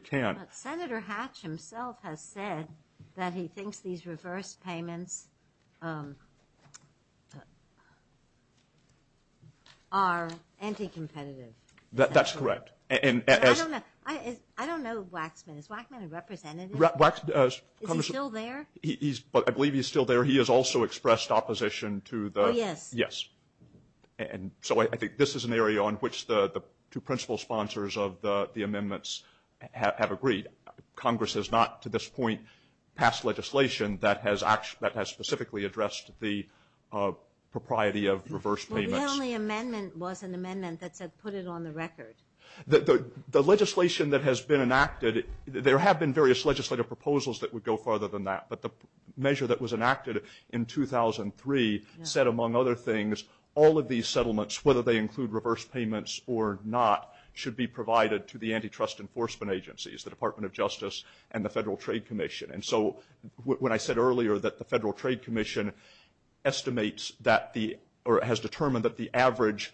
can. Senator Hatch himself has said that he thinks these reverse payments are anti-competitive. That's correct. I don't know the Waxman. Is Waxman a representative? Is he still there? I believe he's still there. He has also expressed opposition to the – Oh, yes. Congress has not to this point passed legislation that has specifically addressed the propriety of reverse payments. The only amendment was an amendment that put it on the record. The legislation that has been enacted – there have been various legislative proposals that would go farther than that. But the measure that was enacted in 2003 said, among other things, all of these settlements, whether they include reverse payments or not, should be provided to the antitrust enforcement agencies, the Department of Justice, and the Federal Trade Commission. And so when I said earlier that the Federal Trade Commission estimates that the – or has determined that the average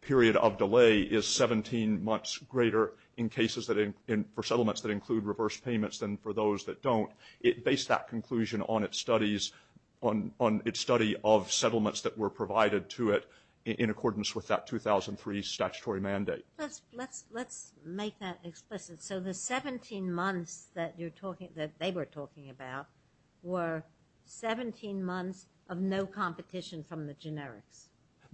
period of delay is 17 months greater in cases for settlements that include reverse payments than for those that don't. It based that conclusion on its study of settlements that were provided to it in accordance with that 2003 statutory mandate. Let's make that explicit. So the 17 months that you're talking – that they were talking about were 17 months of no competition from the generic.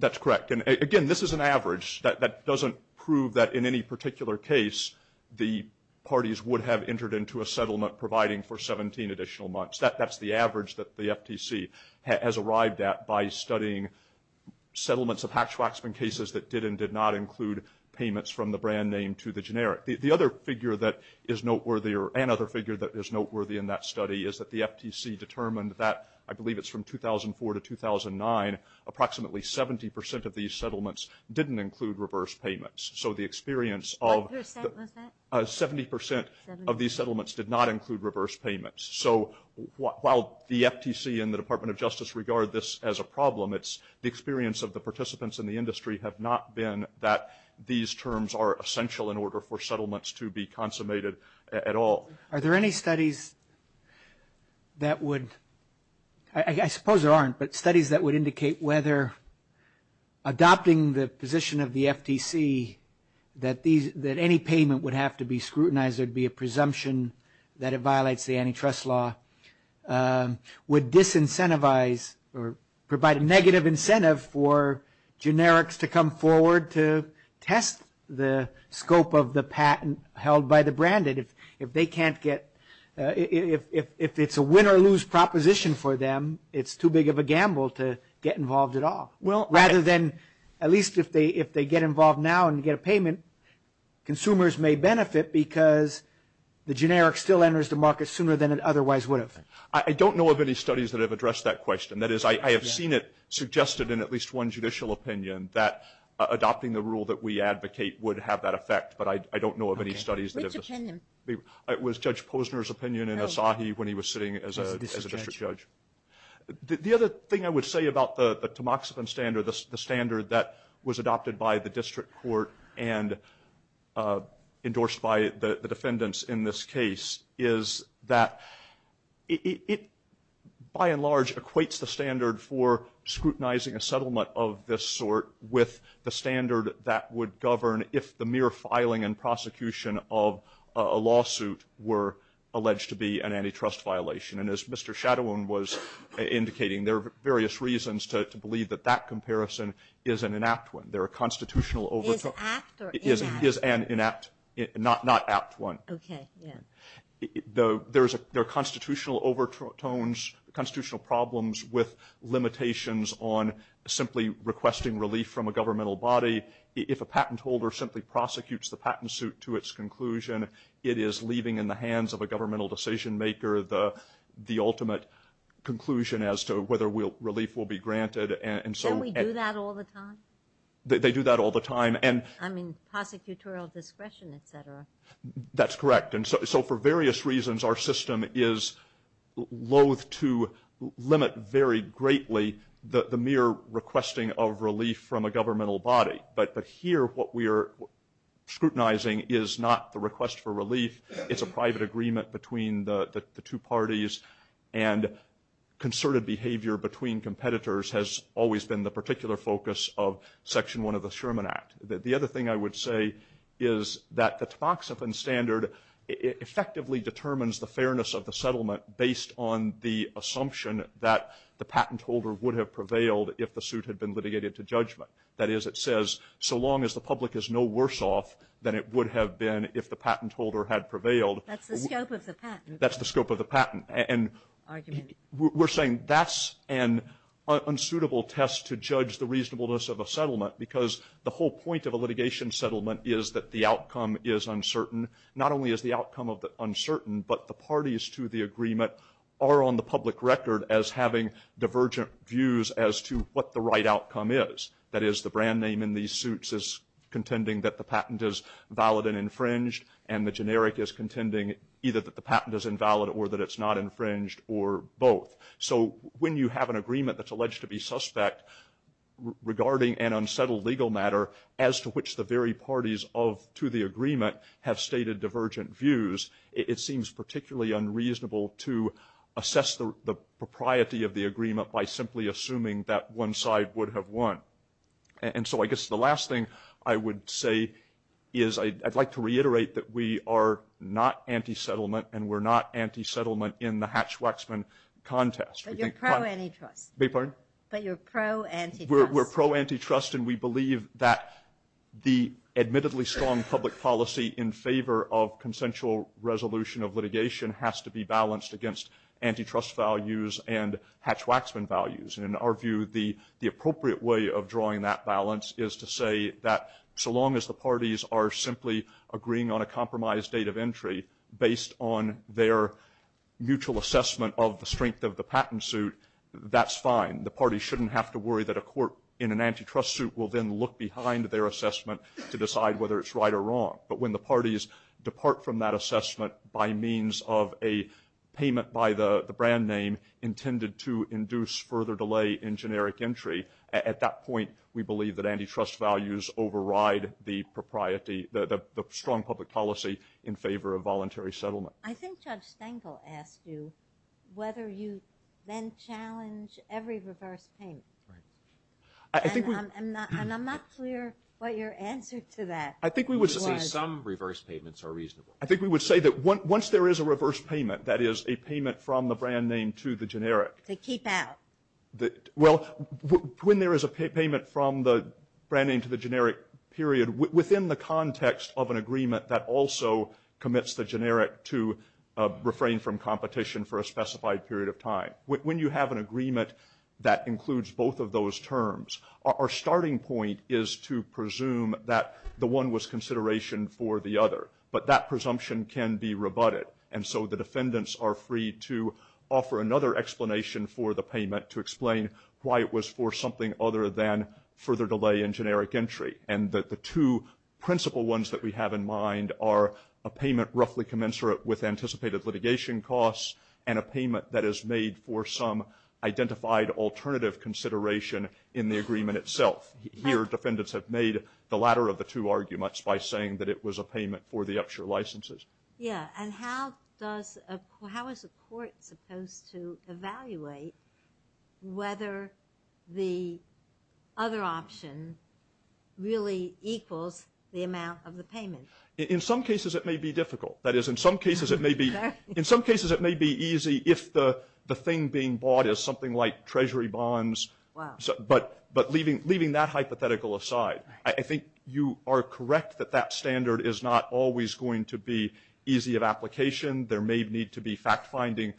That's correct. And, again, this is an average. That doesn't prove that in any particular case the parties would have entered into a settlement providing for 17 additional months. That's the average that the FTC has arrived at by studying settlements of Hatch-Waxman cases that did and did not include payments from the brand name to the generic. The other figure that is noteworthy – or another figure that is noteworthy in that study is that the FTC determined that – I believe it's from 2004 to 2009 – approximately 70 percent of these settlements didn't include reverse payments. So the experience of – What percent was that? Seventy percent of these settlements did not include reverse payments. So while the FTC and the Department of Justice regard this as a problem, it's the experience of the participants in the industry have not been that these terms are essential in order for settlements to be consummated at all. Are there any studies that would – I suppose there aren't, but studies that would indicate whether adopting the position of the FTC that any payment would have to be scrutinized, because it would be a presumption that it violates the antitrust law, would disincentivize or provide a negative incentive for generics to come forward to test the scope of the patent held by the branded? If they can't get – if it's a win-or-lose proposition for them, it's too big of a gamble to get involved at all. Well, rather than – at least if they get involved now and get a payment, consumers may benefit because the generic still enters the market sooner than it otherwise would have. I don't know of any studies that have addressed that question. That is, I have seen it suggested in at least one judicial opinion that adopting the rule that we advocate would have that effect, but I don't know of any studies that have – Which opinion? It was Judge Posner's opinion in Asahi when he was sitting as a district judge. The other thing I would say about the tamoxifen standard, the standard that was adopted by the district court and endorsed by the defendants in this case, is that it by and large equates the standard for scrutinizing a settlement of this sort with the standard that would govern if the mere filing and prosecution of a lawsuit were alleged to be an antitrust violation. And as Mr. Shadowin was indicating, there are various reasons to believe that that comparison is an inapt one. There are constitutional overtones – Is apt or inapt? Is an inapt, not apt one. Okay, yeah. There are constitutional overtones, constitutional problems with limitations on simply requesting relief from a governmental body. If a patent holder simply prosecutes the patent suit to its conclusion, it is leaving in the hands of a governmental decision-maker the ultimate conclusion as to whether relief will be granted. Don't we do that all the time? They do that all the time. That's correct. And so for various reasons, our system is loathe to limit very greatly the mere requesting of relief from a governmental body. But here what we are scrutinizing is not the request for relief. It's a private agreement between the two parties. And concerted behavior between competitors has always been the particular focus of Section 1 of the Sherman Act. The other thing I would say is that the Toxophen standard effectively determines the fairness of the settlement based on the assumption that the patent holder would have prevailed if the suit had been litigated to judgment. That is, it says, so long as the public is no worse off than it would have been if the patent holder had prevailed. That's the scope of the patent. The point of a litigation settlement is that the outcome is uncertain. Not only is the outcome uncertain, but the parties to the agreement are on the public record as having divergent views as to what the right outcome is. That is, the brand name in these suits is contending that the patent is valid and infringed, and the generic is contending either that the patent is invalid or that it's not infringed or both. So when you have an agreement that's alleged to be suspect regarding an unsettled legal matter as to which the very parties to the agreement have stated divergent views, it seems particularly unreasonable to assess the propriety of the agreement by simply assuming that one side would have won. So I guess the last thing I would say is I'd like to reiterate that we are not anti-settlement, and we're not anti-settlement in the Hatch-Waxman contest. But you're pro-antitrust. Beg your pardon? But you're pro-antitrust. We're pro-antitrust, and we believe that the admittedly strong public policy in favor of consensual resolution of litigation has to be balanced against antitrust values and Hatch-Waxman values. And in our view, the appropriate way of drawing that balance is to say that so long as the parties are simply agreeing on a compromised date of entry based on their mutual assessment of the strength of the patent suit, that's fine. The parties shouldn't have to worry that a court in an antitrust suit will then look behind their assessment to decide whether it's right or wrong. But when the parties depart from that assessment by means of a payment by the brand name intended to induce further delay in generic entry, at that point, we believe that antitrust values override the strong public policy in favor of voluntary settlement. I think Judge Stengel asked you whether you then challenge every reverse paint. And I'm not clear what your answer to that was. I think we would say some reverse payments are reasonable. I think we would say that once there is a reverse payment, that is, a payment from the brand name to the generic. They keep out. Well, when there is a payment from the brand name to the generic period, within the context of an agreement that also commits the generic to refrain from competition for a specified period of time, when you have an agreement that includes both of those terms, our starting point is to presume that the one was consideration for the other. But that presumption can be rebutted. And so the defendants are free to offer another explanation for the payment to explain why it was for something other than further delay in generic entry. And the two principal ones that we have in mind are a payment roughly commensurate with anticipated litigation costs and a payment that is made for some identified alternative consideration in the agreement itself. Here, defendants have made the latter of the two arguments by saying that it was a payment for the upshare licenses. Yes, and how is the court supposed to evaluate whether the other option really equals the amount of the payment? In some cases, it may be difficult. That is, in some cases, it may be easy if the thing being bought is something like treasury bonds. But leaving that hypothetical aside, I think you are correct that that standard is not always going to be easy of application. There may need to be fact-finding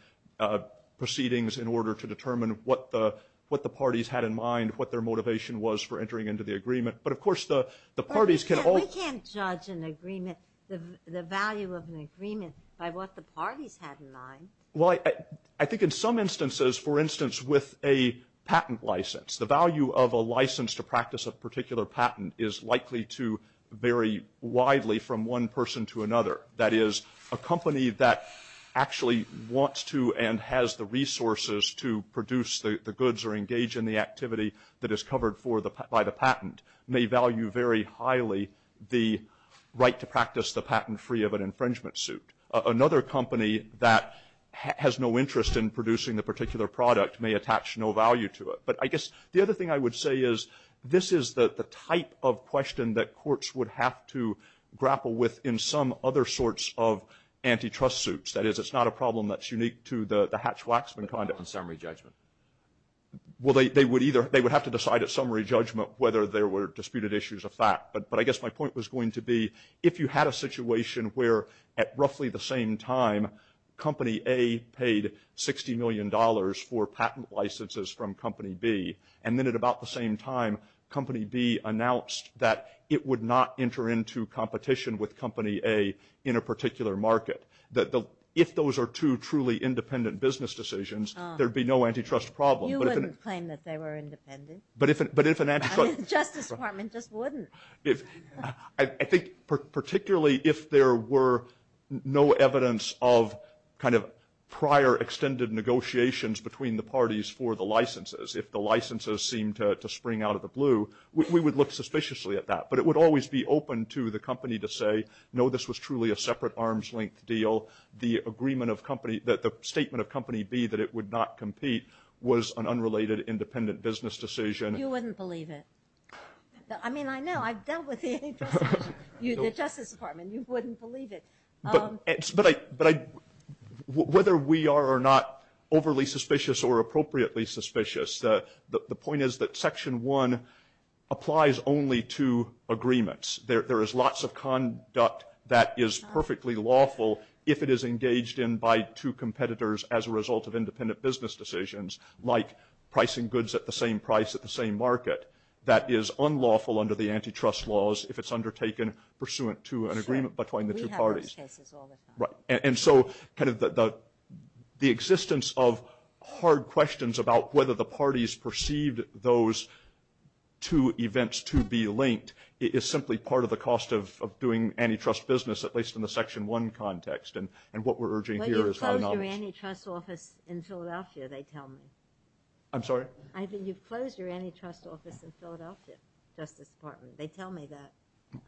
proceedings in order to determine what the parties had in mind, what their motivation was for entering into the agreement. But, of course, the parties can all – I can't judge an agreement, the value of an agreement, by what the parties had in mind. Well, I think in some instances, for instance, with a patent license, the value of a license to practice a particular patent is likely to vary widely from one person to another. That is, a company that actually wants to and has the resources to produce the goods or engage in the activity that is covered by the patent may value very highly the right to practice the patent free of an infringement suit. Another company that has no interest in producing the particular product may attach no value to it. But I guess the other thing I would say is this is the type of question that courts would have to grapple with in some other sorts of antitrust suits. That is, it's not a problem that's unique to the Hatch-Waxman Conduct and Summary Judgment. Well, they would either – they would have to decide at Summary Judgment whether there were disputed issues of fact. But I guess my point was going to be if you had a situation where, at roughly the same time, Company A paid $60 million for patent licenses from Company B, and then at about the same time, Company B announced that it would not enter into competition with Company A in a particular market. If those are two truly independent business decisions, there would be no antitrust problem. You wouldn't claim that they were independent. I mean, the Justice Department just wouldn't. I think particularly if there were no evidence of kind of prior extended negotiations between the parties for the licenses, if the licenses seemed to spring out of the blue, we would look suspiciously at that. But it would always be open to the company to say, no, this was truly a separate arms-length deal. The agreement of Company – the statement of Company B that it would not compete was an unrelated independent business decision. You wouldn't believe it. I mean, I know. I've dealt with the Justice Department. You wouldn't believe it. But whether we are or not overly suspicious or appropriately suspicious, the point is that Section 1 applies only to agreements. There is lots of conduct that is perfectly lawful if it is engaged in by two competitors as a result of independent business decisions, like pricing goods at the same price at the same market. That is unlawful under the antitrust laws if it's undertaken pursuant to an agreement between the two parties. And so kind of the existence of hard questions about whether the parties perceived those two events to be linked is simply part of the cost of doing antitrust business, at least in the Section 1 context. And what we're urging here is high knowledge. But you've closed your antitrust office in Philadelphia, they tell me. I'm sorry? You've closed your antitrust office in Philadelphia, Justice Department. They tell me that.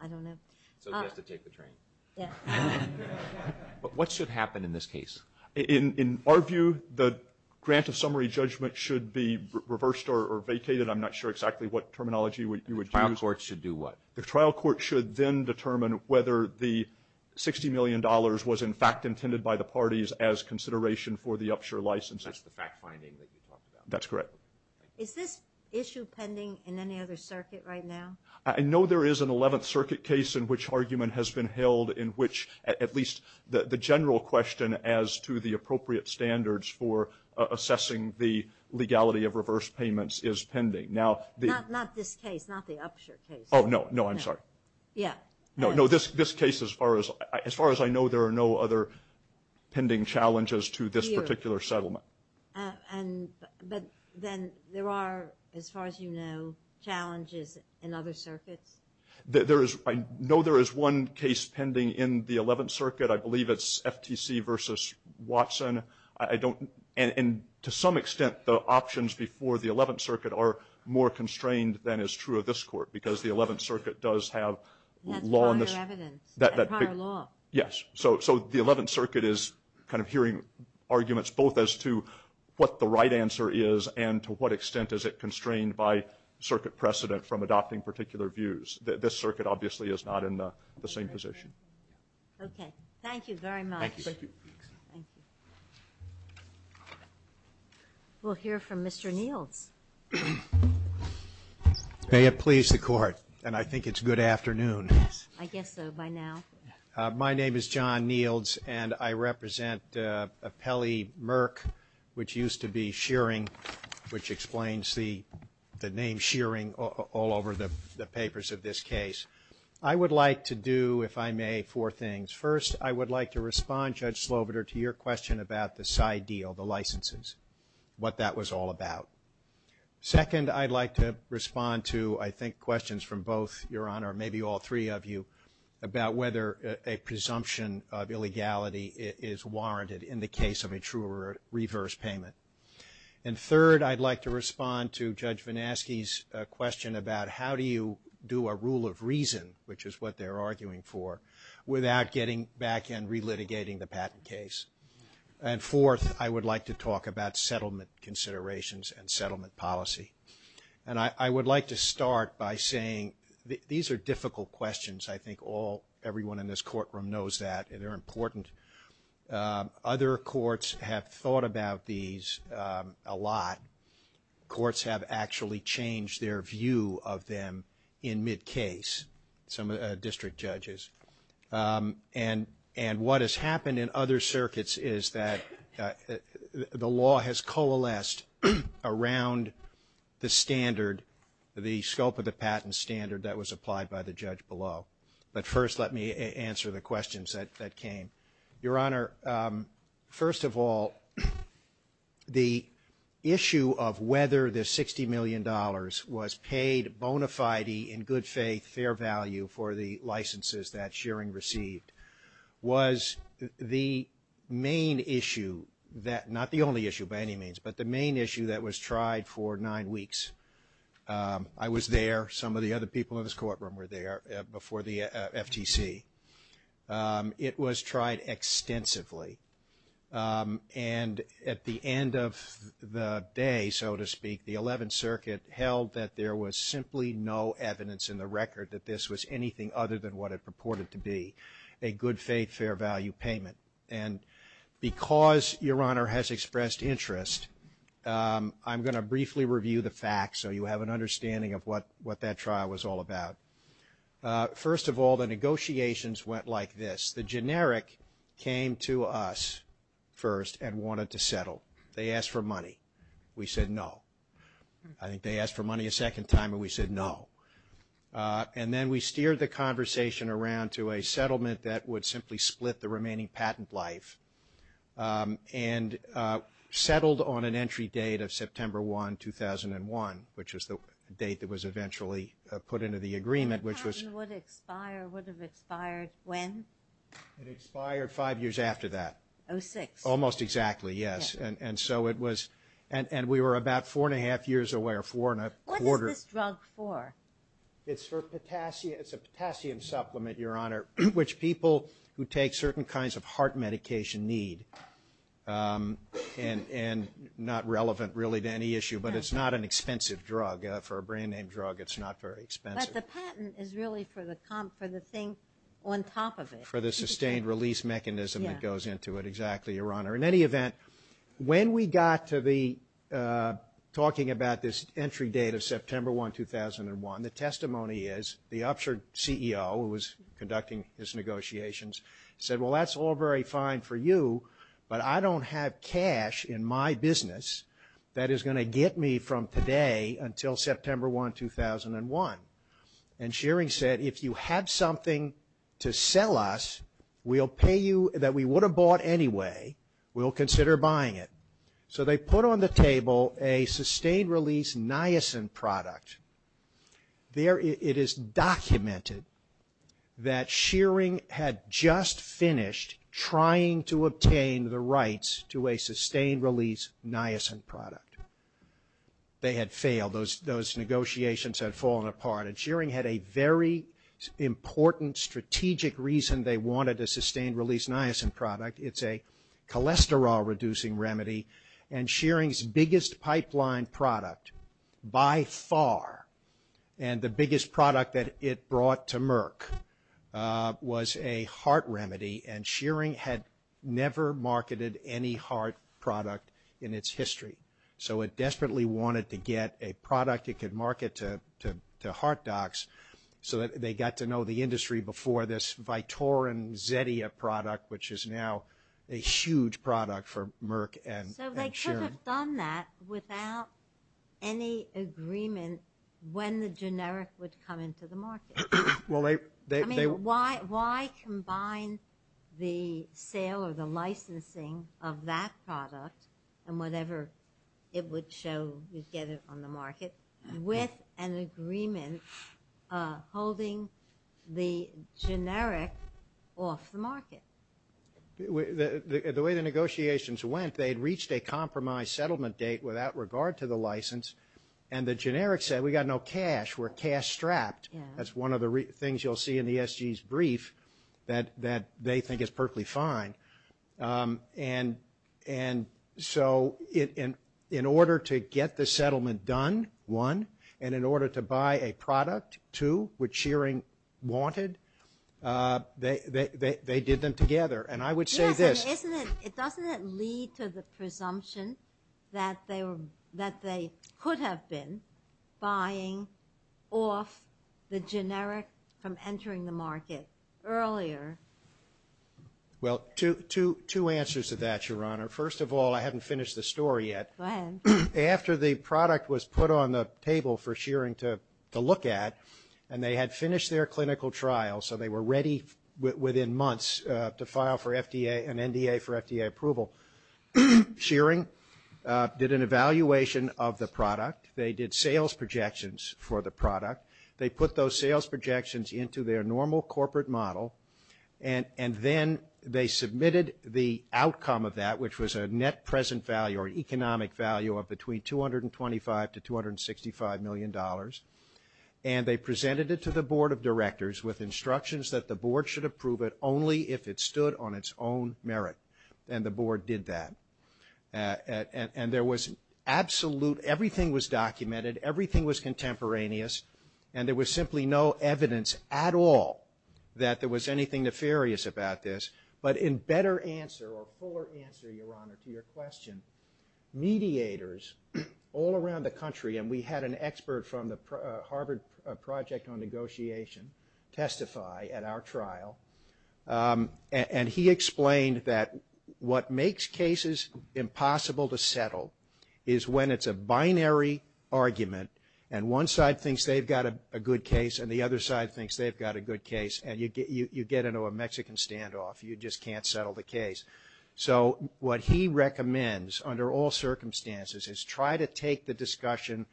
I don't know. So you have to take the train. Yes. But what should happen in this case? In our view, the grant of summary judgment should be reversed or vacated. I'm not sure exactly what terminology you would use. The trial court should do what? The trial court should then determine whether the $60 million was in fact intended by the parties as consideration for the upshare license. That's the fact-finding that you talked about. That's correct. Is this issue pending in any other circuit right now? I know there is an 11th Circuit case in which argument has been held in which at least the general question as to the appropriate standards for assessing the legality of reverse payments is pending. Not this case, not the upshare case. Oh, no. No, I'm sorry. Yeah. No, this case, as far as I know, there are no other pending challenges to this particular settlement. But then there are, as far as you know, challenges in other circuits? I know there is one case pending in the 11th Circuit. I believe it's FTC versus Watson. And to some extent, the options before the 11th Circuit are more constrained than is true of this court because the 11th Circuit does have law. That's part of the evidence. Yes. Yes. So the 11th Circuit is kind of hearing arguments both as to what the right answer is and to what extent is it constrained by circuit precedent from adopting particular views. This circuit obviously is not in the same position. Okay. Thank you very much. Thank you. Thank you. We'll hear from Mr. Neal. May it please the Court, and I think it's good afternoon. I guess so by now. My name is John Neals, and I represent Appellee Merck, which used to be Shearing, which explains the name Shearing all over the papers of this case. I would like to do, if I may, four things. First, I would like to respond, Judge Slobodur, to your question about the side deal, the licenses, what that was all about. Second, I'd like to respond to, I think, questions from both your Honor, maybe all three of you, about whether a presumption of illegality is warranted in the case of a true or reverse payment. And third, I'd like to respond to Judge Vinasky's question about how do you do a rule of reason, which is what they're arguing for, without getting back and relitigating the patent case. And fourth, I would like to talk about settlement considerations and settlement policy. And I would like to start by saying these are difficult questions. I think everyone in this courtroom knows that, and they're important. Other courts have thought about these a lot. Courts have actually changed their view of them in mid-case, some district judges. And what has happened in other circuits is that the law has coalesced around the standard, the scope of the patent standard that was applied by the judge below. But first, let me answer the questions that came. Your Honor, first of all, the issue of whether the $60 million was paid bona fide, in good faith, fair value for the licenses that Shearing received was the main issue, not the only issue by any means, but the main issue that was tried for nine weeks. I was there. Some of the other people in this courtroom were there before the FTC. It was tried extensively. And at the end of the day, so to speak, the 11th Circuit held that there was simply no evidence in the record that this was anything other than what it purported to be, a good faith, fair value payment. And because Your Honor has expressed interest, I'm going to briefly review the facts so you have an understanding of what that trial was all about. First of all, the negotiations went like this. The generic came to us first and wanted to settle. They asked for money. We said no. I think they asked for money a second time, and we said no. And then we steered the conversation around to a settlement that would simply split the remaining patent life and settled on an entry date of September 1, 2001, which is the date that was eventually put into the agreement, which was... The patent would expire. Would have expired when? It expired five years after that. Oh, six. Almost exactly, yes. And so it was... And we were about four and a half years away, or four and a quarter... What is this drug for? It's for potassium. It's a potassium supplement, Your Honor, which people who take certain kinds of heart medication need, and not relevant really to any issue. But it's not an expensive drug. For a brand-name drug, it's not very expensive. But the patent is really for the thing on top of it. For the sustained release mechanism that goes into it, exactly, Your Honor. In any event, when we got to the talking about this entry date of September 1, 2001, the testimony is the Upshur CEO, who was conducting these negotiations, said, Well, that's all very fine for you, but I don't have cash in my business that is going to get me from today until September 1, 2001. And Shearing said, If you had something to sell us, we'll pay you that we would have bought anyway. We'll consider buying it. So they put on the table a sustained release niacin product. It is documented that Shearing had just finished trying to obtain the rights to a sustained release niacin product. They had failed. Those negotiations had fallen apart. And Shearing had a very important strategic reason they wanted a sustained release niacin product. It's a cholesterol-reducing remedy. And Shearing's biggest pipeline product, by far, and the biggest product that it brought to Merck was a heart remedy. And Shearing had never marketed any heart product in its history. So it desperately wanted to get a product it could market to heart docs so that they got to know the industry before this Vitorin Zetia product, which is now a huge product for Merck and Shearing. So they could have done that without any agreement when the generic would come into the market. I mean, why combine the sale or the licensing of that product and whatever it would show you get it on the market with an agreement holding the generic off the market? The way the negotiations went, they had reached a compromise settlement date without regard to the license. And the generic said, we got no cash. We're cash-strapped. That's one of the things you'll see in the SG's brief that they think is perfectly fine. And so in order to get the settlement done, one, and in order to buy a product, two, which Shearing wanted, they did them together. And I would say this. Doesn't it lead to the presumption that they could have been buying off the generic from entering the market earlier? Well, two answers to that, Your Honor. First of all, I haven't finished the story yet. Go ahead. After the product was put on the table for Shearing to look at, and they had finished their clinical trial, so they were ready within months to file for FDA and NDA for FDA approval, Shearing did an evaluation of the product. They did sales projections for the product. They put those sales projections into their normal corporate model, and then they submitted the outcome of that, which was a net present value or economic value of between $225 million to $265 million. And they presented it to the board of directors with instructions that the board should approve it only if it stood on its own merit. And the board did that. And there was absolute, everything was documented. Everything was contemporaneous. And there was simply no evidence at all that there was anything nefarious about this. But in better answer or fuller answer, Your Honor, to your question, mediators all around the country, and we had an expert from the Harvard Project on Negotiation testify at our trial, and he explained that what makes cases impossible to settle is when it's a binary argument, and one side thinks they've got a good case, and the other side thinks they've got a good case, and you get into a Mexican standoff. You just can't settle the case. So what he recommends under all circumstances is try to take the discussion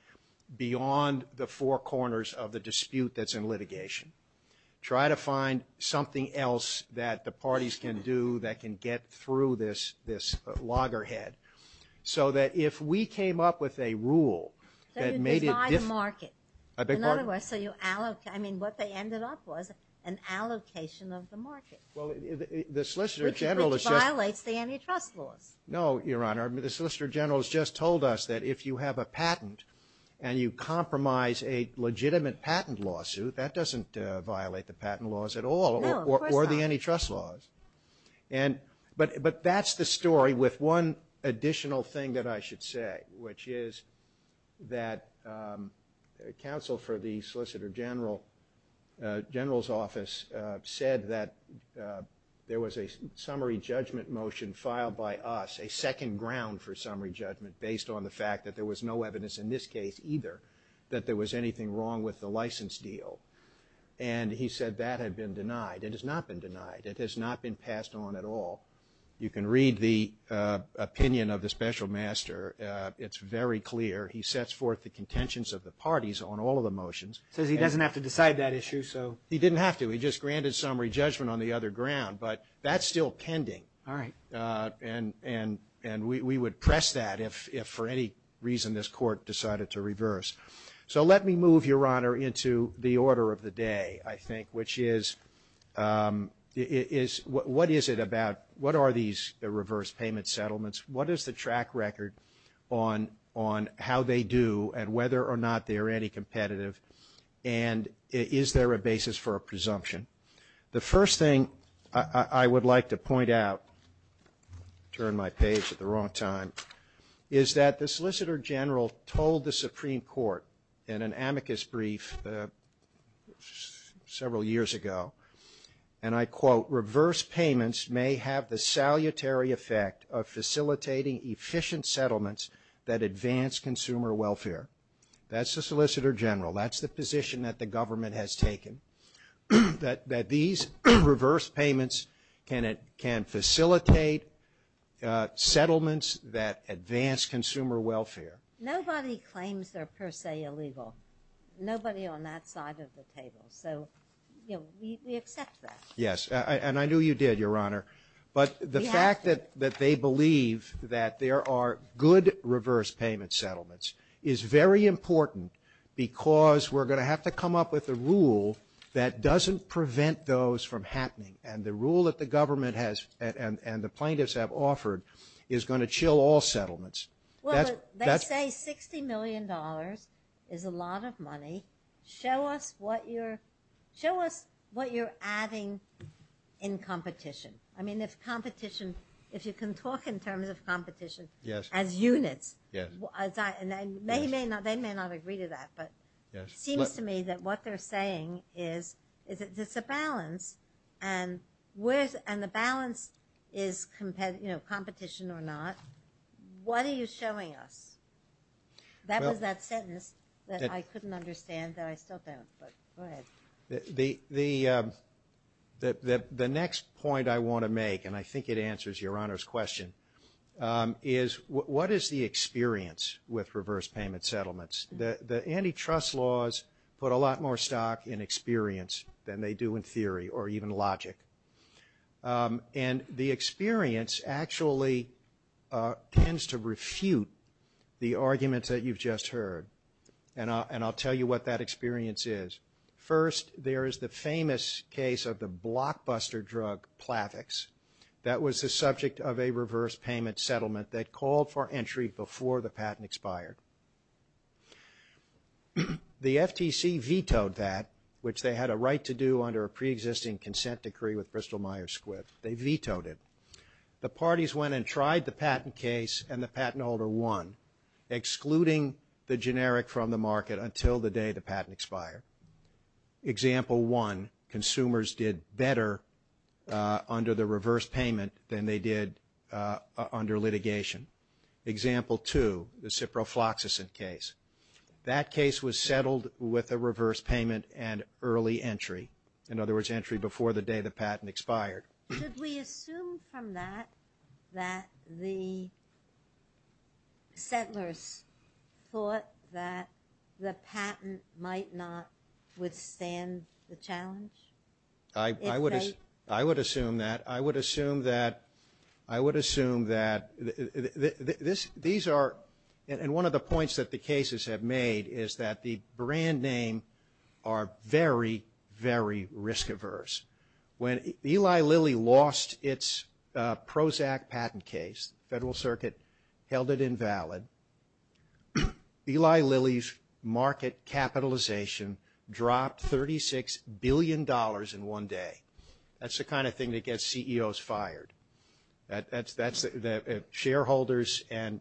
beyond the four corners of the dispute that's in litigation. Try to find something else that the parties can do that can get through this loggerhead. So that if we came up with a rule that made it... So you divide the market. I beg your pardon? In other words, so you allocate, I mean, what they ended up was an allocation of the market. Well, the Solicitor General... Which violates the antitrust law. No, Your Honor. The Solicitor General has just told us that if you have a patent and you compromise a legitimate patent lawsuit, that doesn't violate the patent laws at all or the antitrust laws. But that's the story with one additional thing that I should say, which is that counsel for the Solicitor General's office said that there was a summary judgment motion filed by us, a second ground for summary judgment based on the fact that there was no evidence in this case either that there was anything wrong with the license deal. And he said that had been denied. It has not been denied. It has not been passed on at all. You can read the opinion of the special master. It's very clear. He sets forth the contentions of the parties on all of the motions. So he doesn't have to decide that issue? He didn't have to. He just granted summary judgment on the other ground. But that's still pending. All right. And we would press that if for any reason this court decided to reverse. So let me move, Your Honor, into the order of the day, I think, which is what is it about? What are these reverse payment settlements? What is the track record on how they do and whether or not they are any competitive? And is there a basis for a presumption? The first thing I would like to point out, turn my page at the wrong time, is that the Solicitor General told the Supreme Court in an amicus brief several years ago, and I quote, reverse payments may have the salutary effect of facilitating efficient settlements that advance consumer welfare. That's the Solicitor General. That's the position that the government has taken, that these reverse payments can facilitate settlements that advance consumer welfare. Nobody claims they're per se illegal. Nobody on that side of the table. So we accept that. Yes. And I knew you did, Your Honor. But the fact that they believe that there are good reverse payment settlements is very important because we're going to have to come up with a rule that doesn't prevent those from happening. And the rule that the government has and the plaintiffs have offered is going to chill all settlements. Well, they say $60 million is a lot of money. Show us what you're adding in competition. I mean, if competition, if you can talk in terms of competition as units, and they may not agree to that, but it seems to me that what they're saying is it's a balance, and the balance is, you know, competition or not. What are you showing us? That was that sentence that I couldn't understand that I still don't, but go ahead. The next point I want to make, and I think it answers Your Honor's question, is what is the experience with reverse payment settlements? The antitrust laws put a lot more stock in experience than they do in theory or even logic. And the experience actually tends to refute the argument that you've just heard, and I'll tell you what that experience is. First, there is the famous case of the blockbuster drug Plavix. That was the subject of a reverse payment settlement that called for entry before the patent expired. The FTC vetoed that, which they had a right to do under a preexisting consent decree with Crystal Myers-Squith. They vetoed it. The parties went and tried the patent case, and the patent holder won, excluding the generic from the market until the day the patent expired. Example one, consumers did better under the reverse payment than they did under litigation. Example two, the ciprofloxacin case. That case was settled with a reverse payment and early entry, in other words, entry before the day the patent expired. Should we assume from that that the settlers thought that the patent might not withstand the challenge? I would assume that. I would assume that. I would assume that. These are, and one of the points that the cases have made is that the brand names are very, very risk averse. When Eli Lilly lost its Prozac patent case, the Federal Circuit held it invalid. Eli Lilly's market capitalization dropped $36 billion in one day. That's the kind of thing that gets CEOs fired. Shareholders and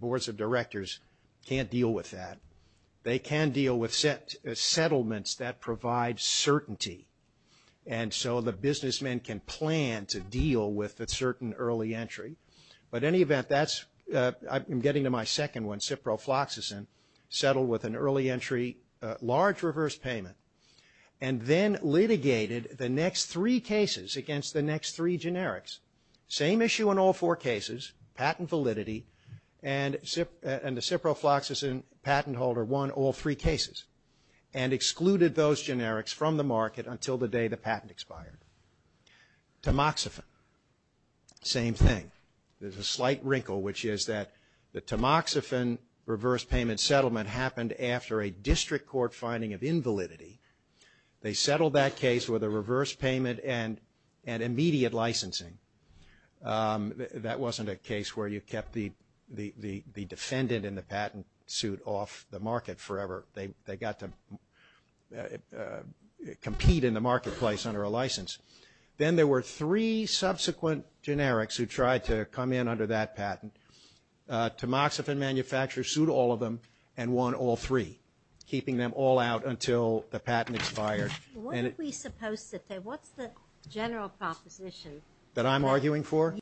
boards of directors can't deal with that. They can deal with settlements that provide certainty, and so the businessmen can plan to deal with a certain early entry. But in any event, that's, I'm getting to my second one, ciprofloxacin, settled with an early entry, large reverse payment, and then litigated the next three cases against the next three generics. Same issue in all four cases, patent validity, and the ciprofloxacin patent holder won all three cases and excluded those generics from the market until the day the patent expired. Tamoxifen, same thing. There's a slight wrinkle, which is that the Tamoxifen reverse payment settlement happened after a district court finding of invalidity. They settled that case with a reverse payment and immediate licensing. That wasn't a case where you kept the defendant in the patent suit off the market forever. They got to compete in the marketplace under a license. Then there were three subsequent generics who tried to come in under that patent. Tamoxifen manufacturers sued all of them and won all three, keeping them all out until the patent expired. What are we supposed to say? What's the general proposition? That I'm arguing for?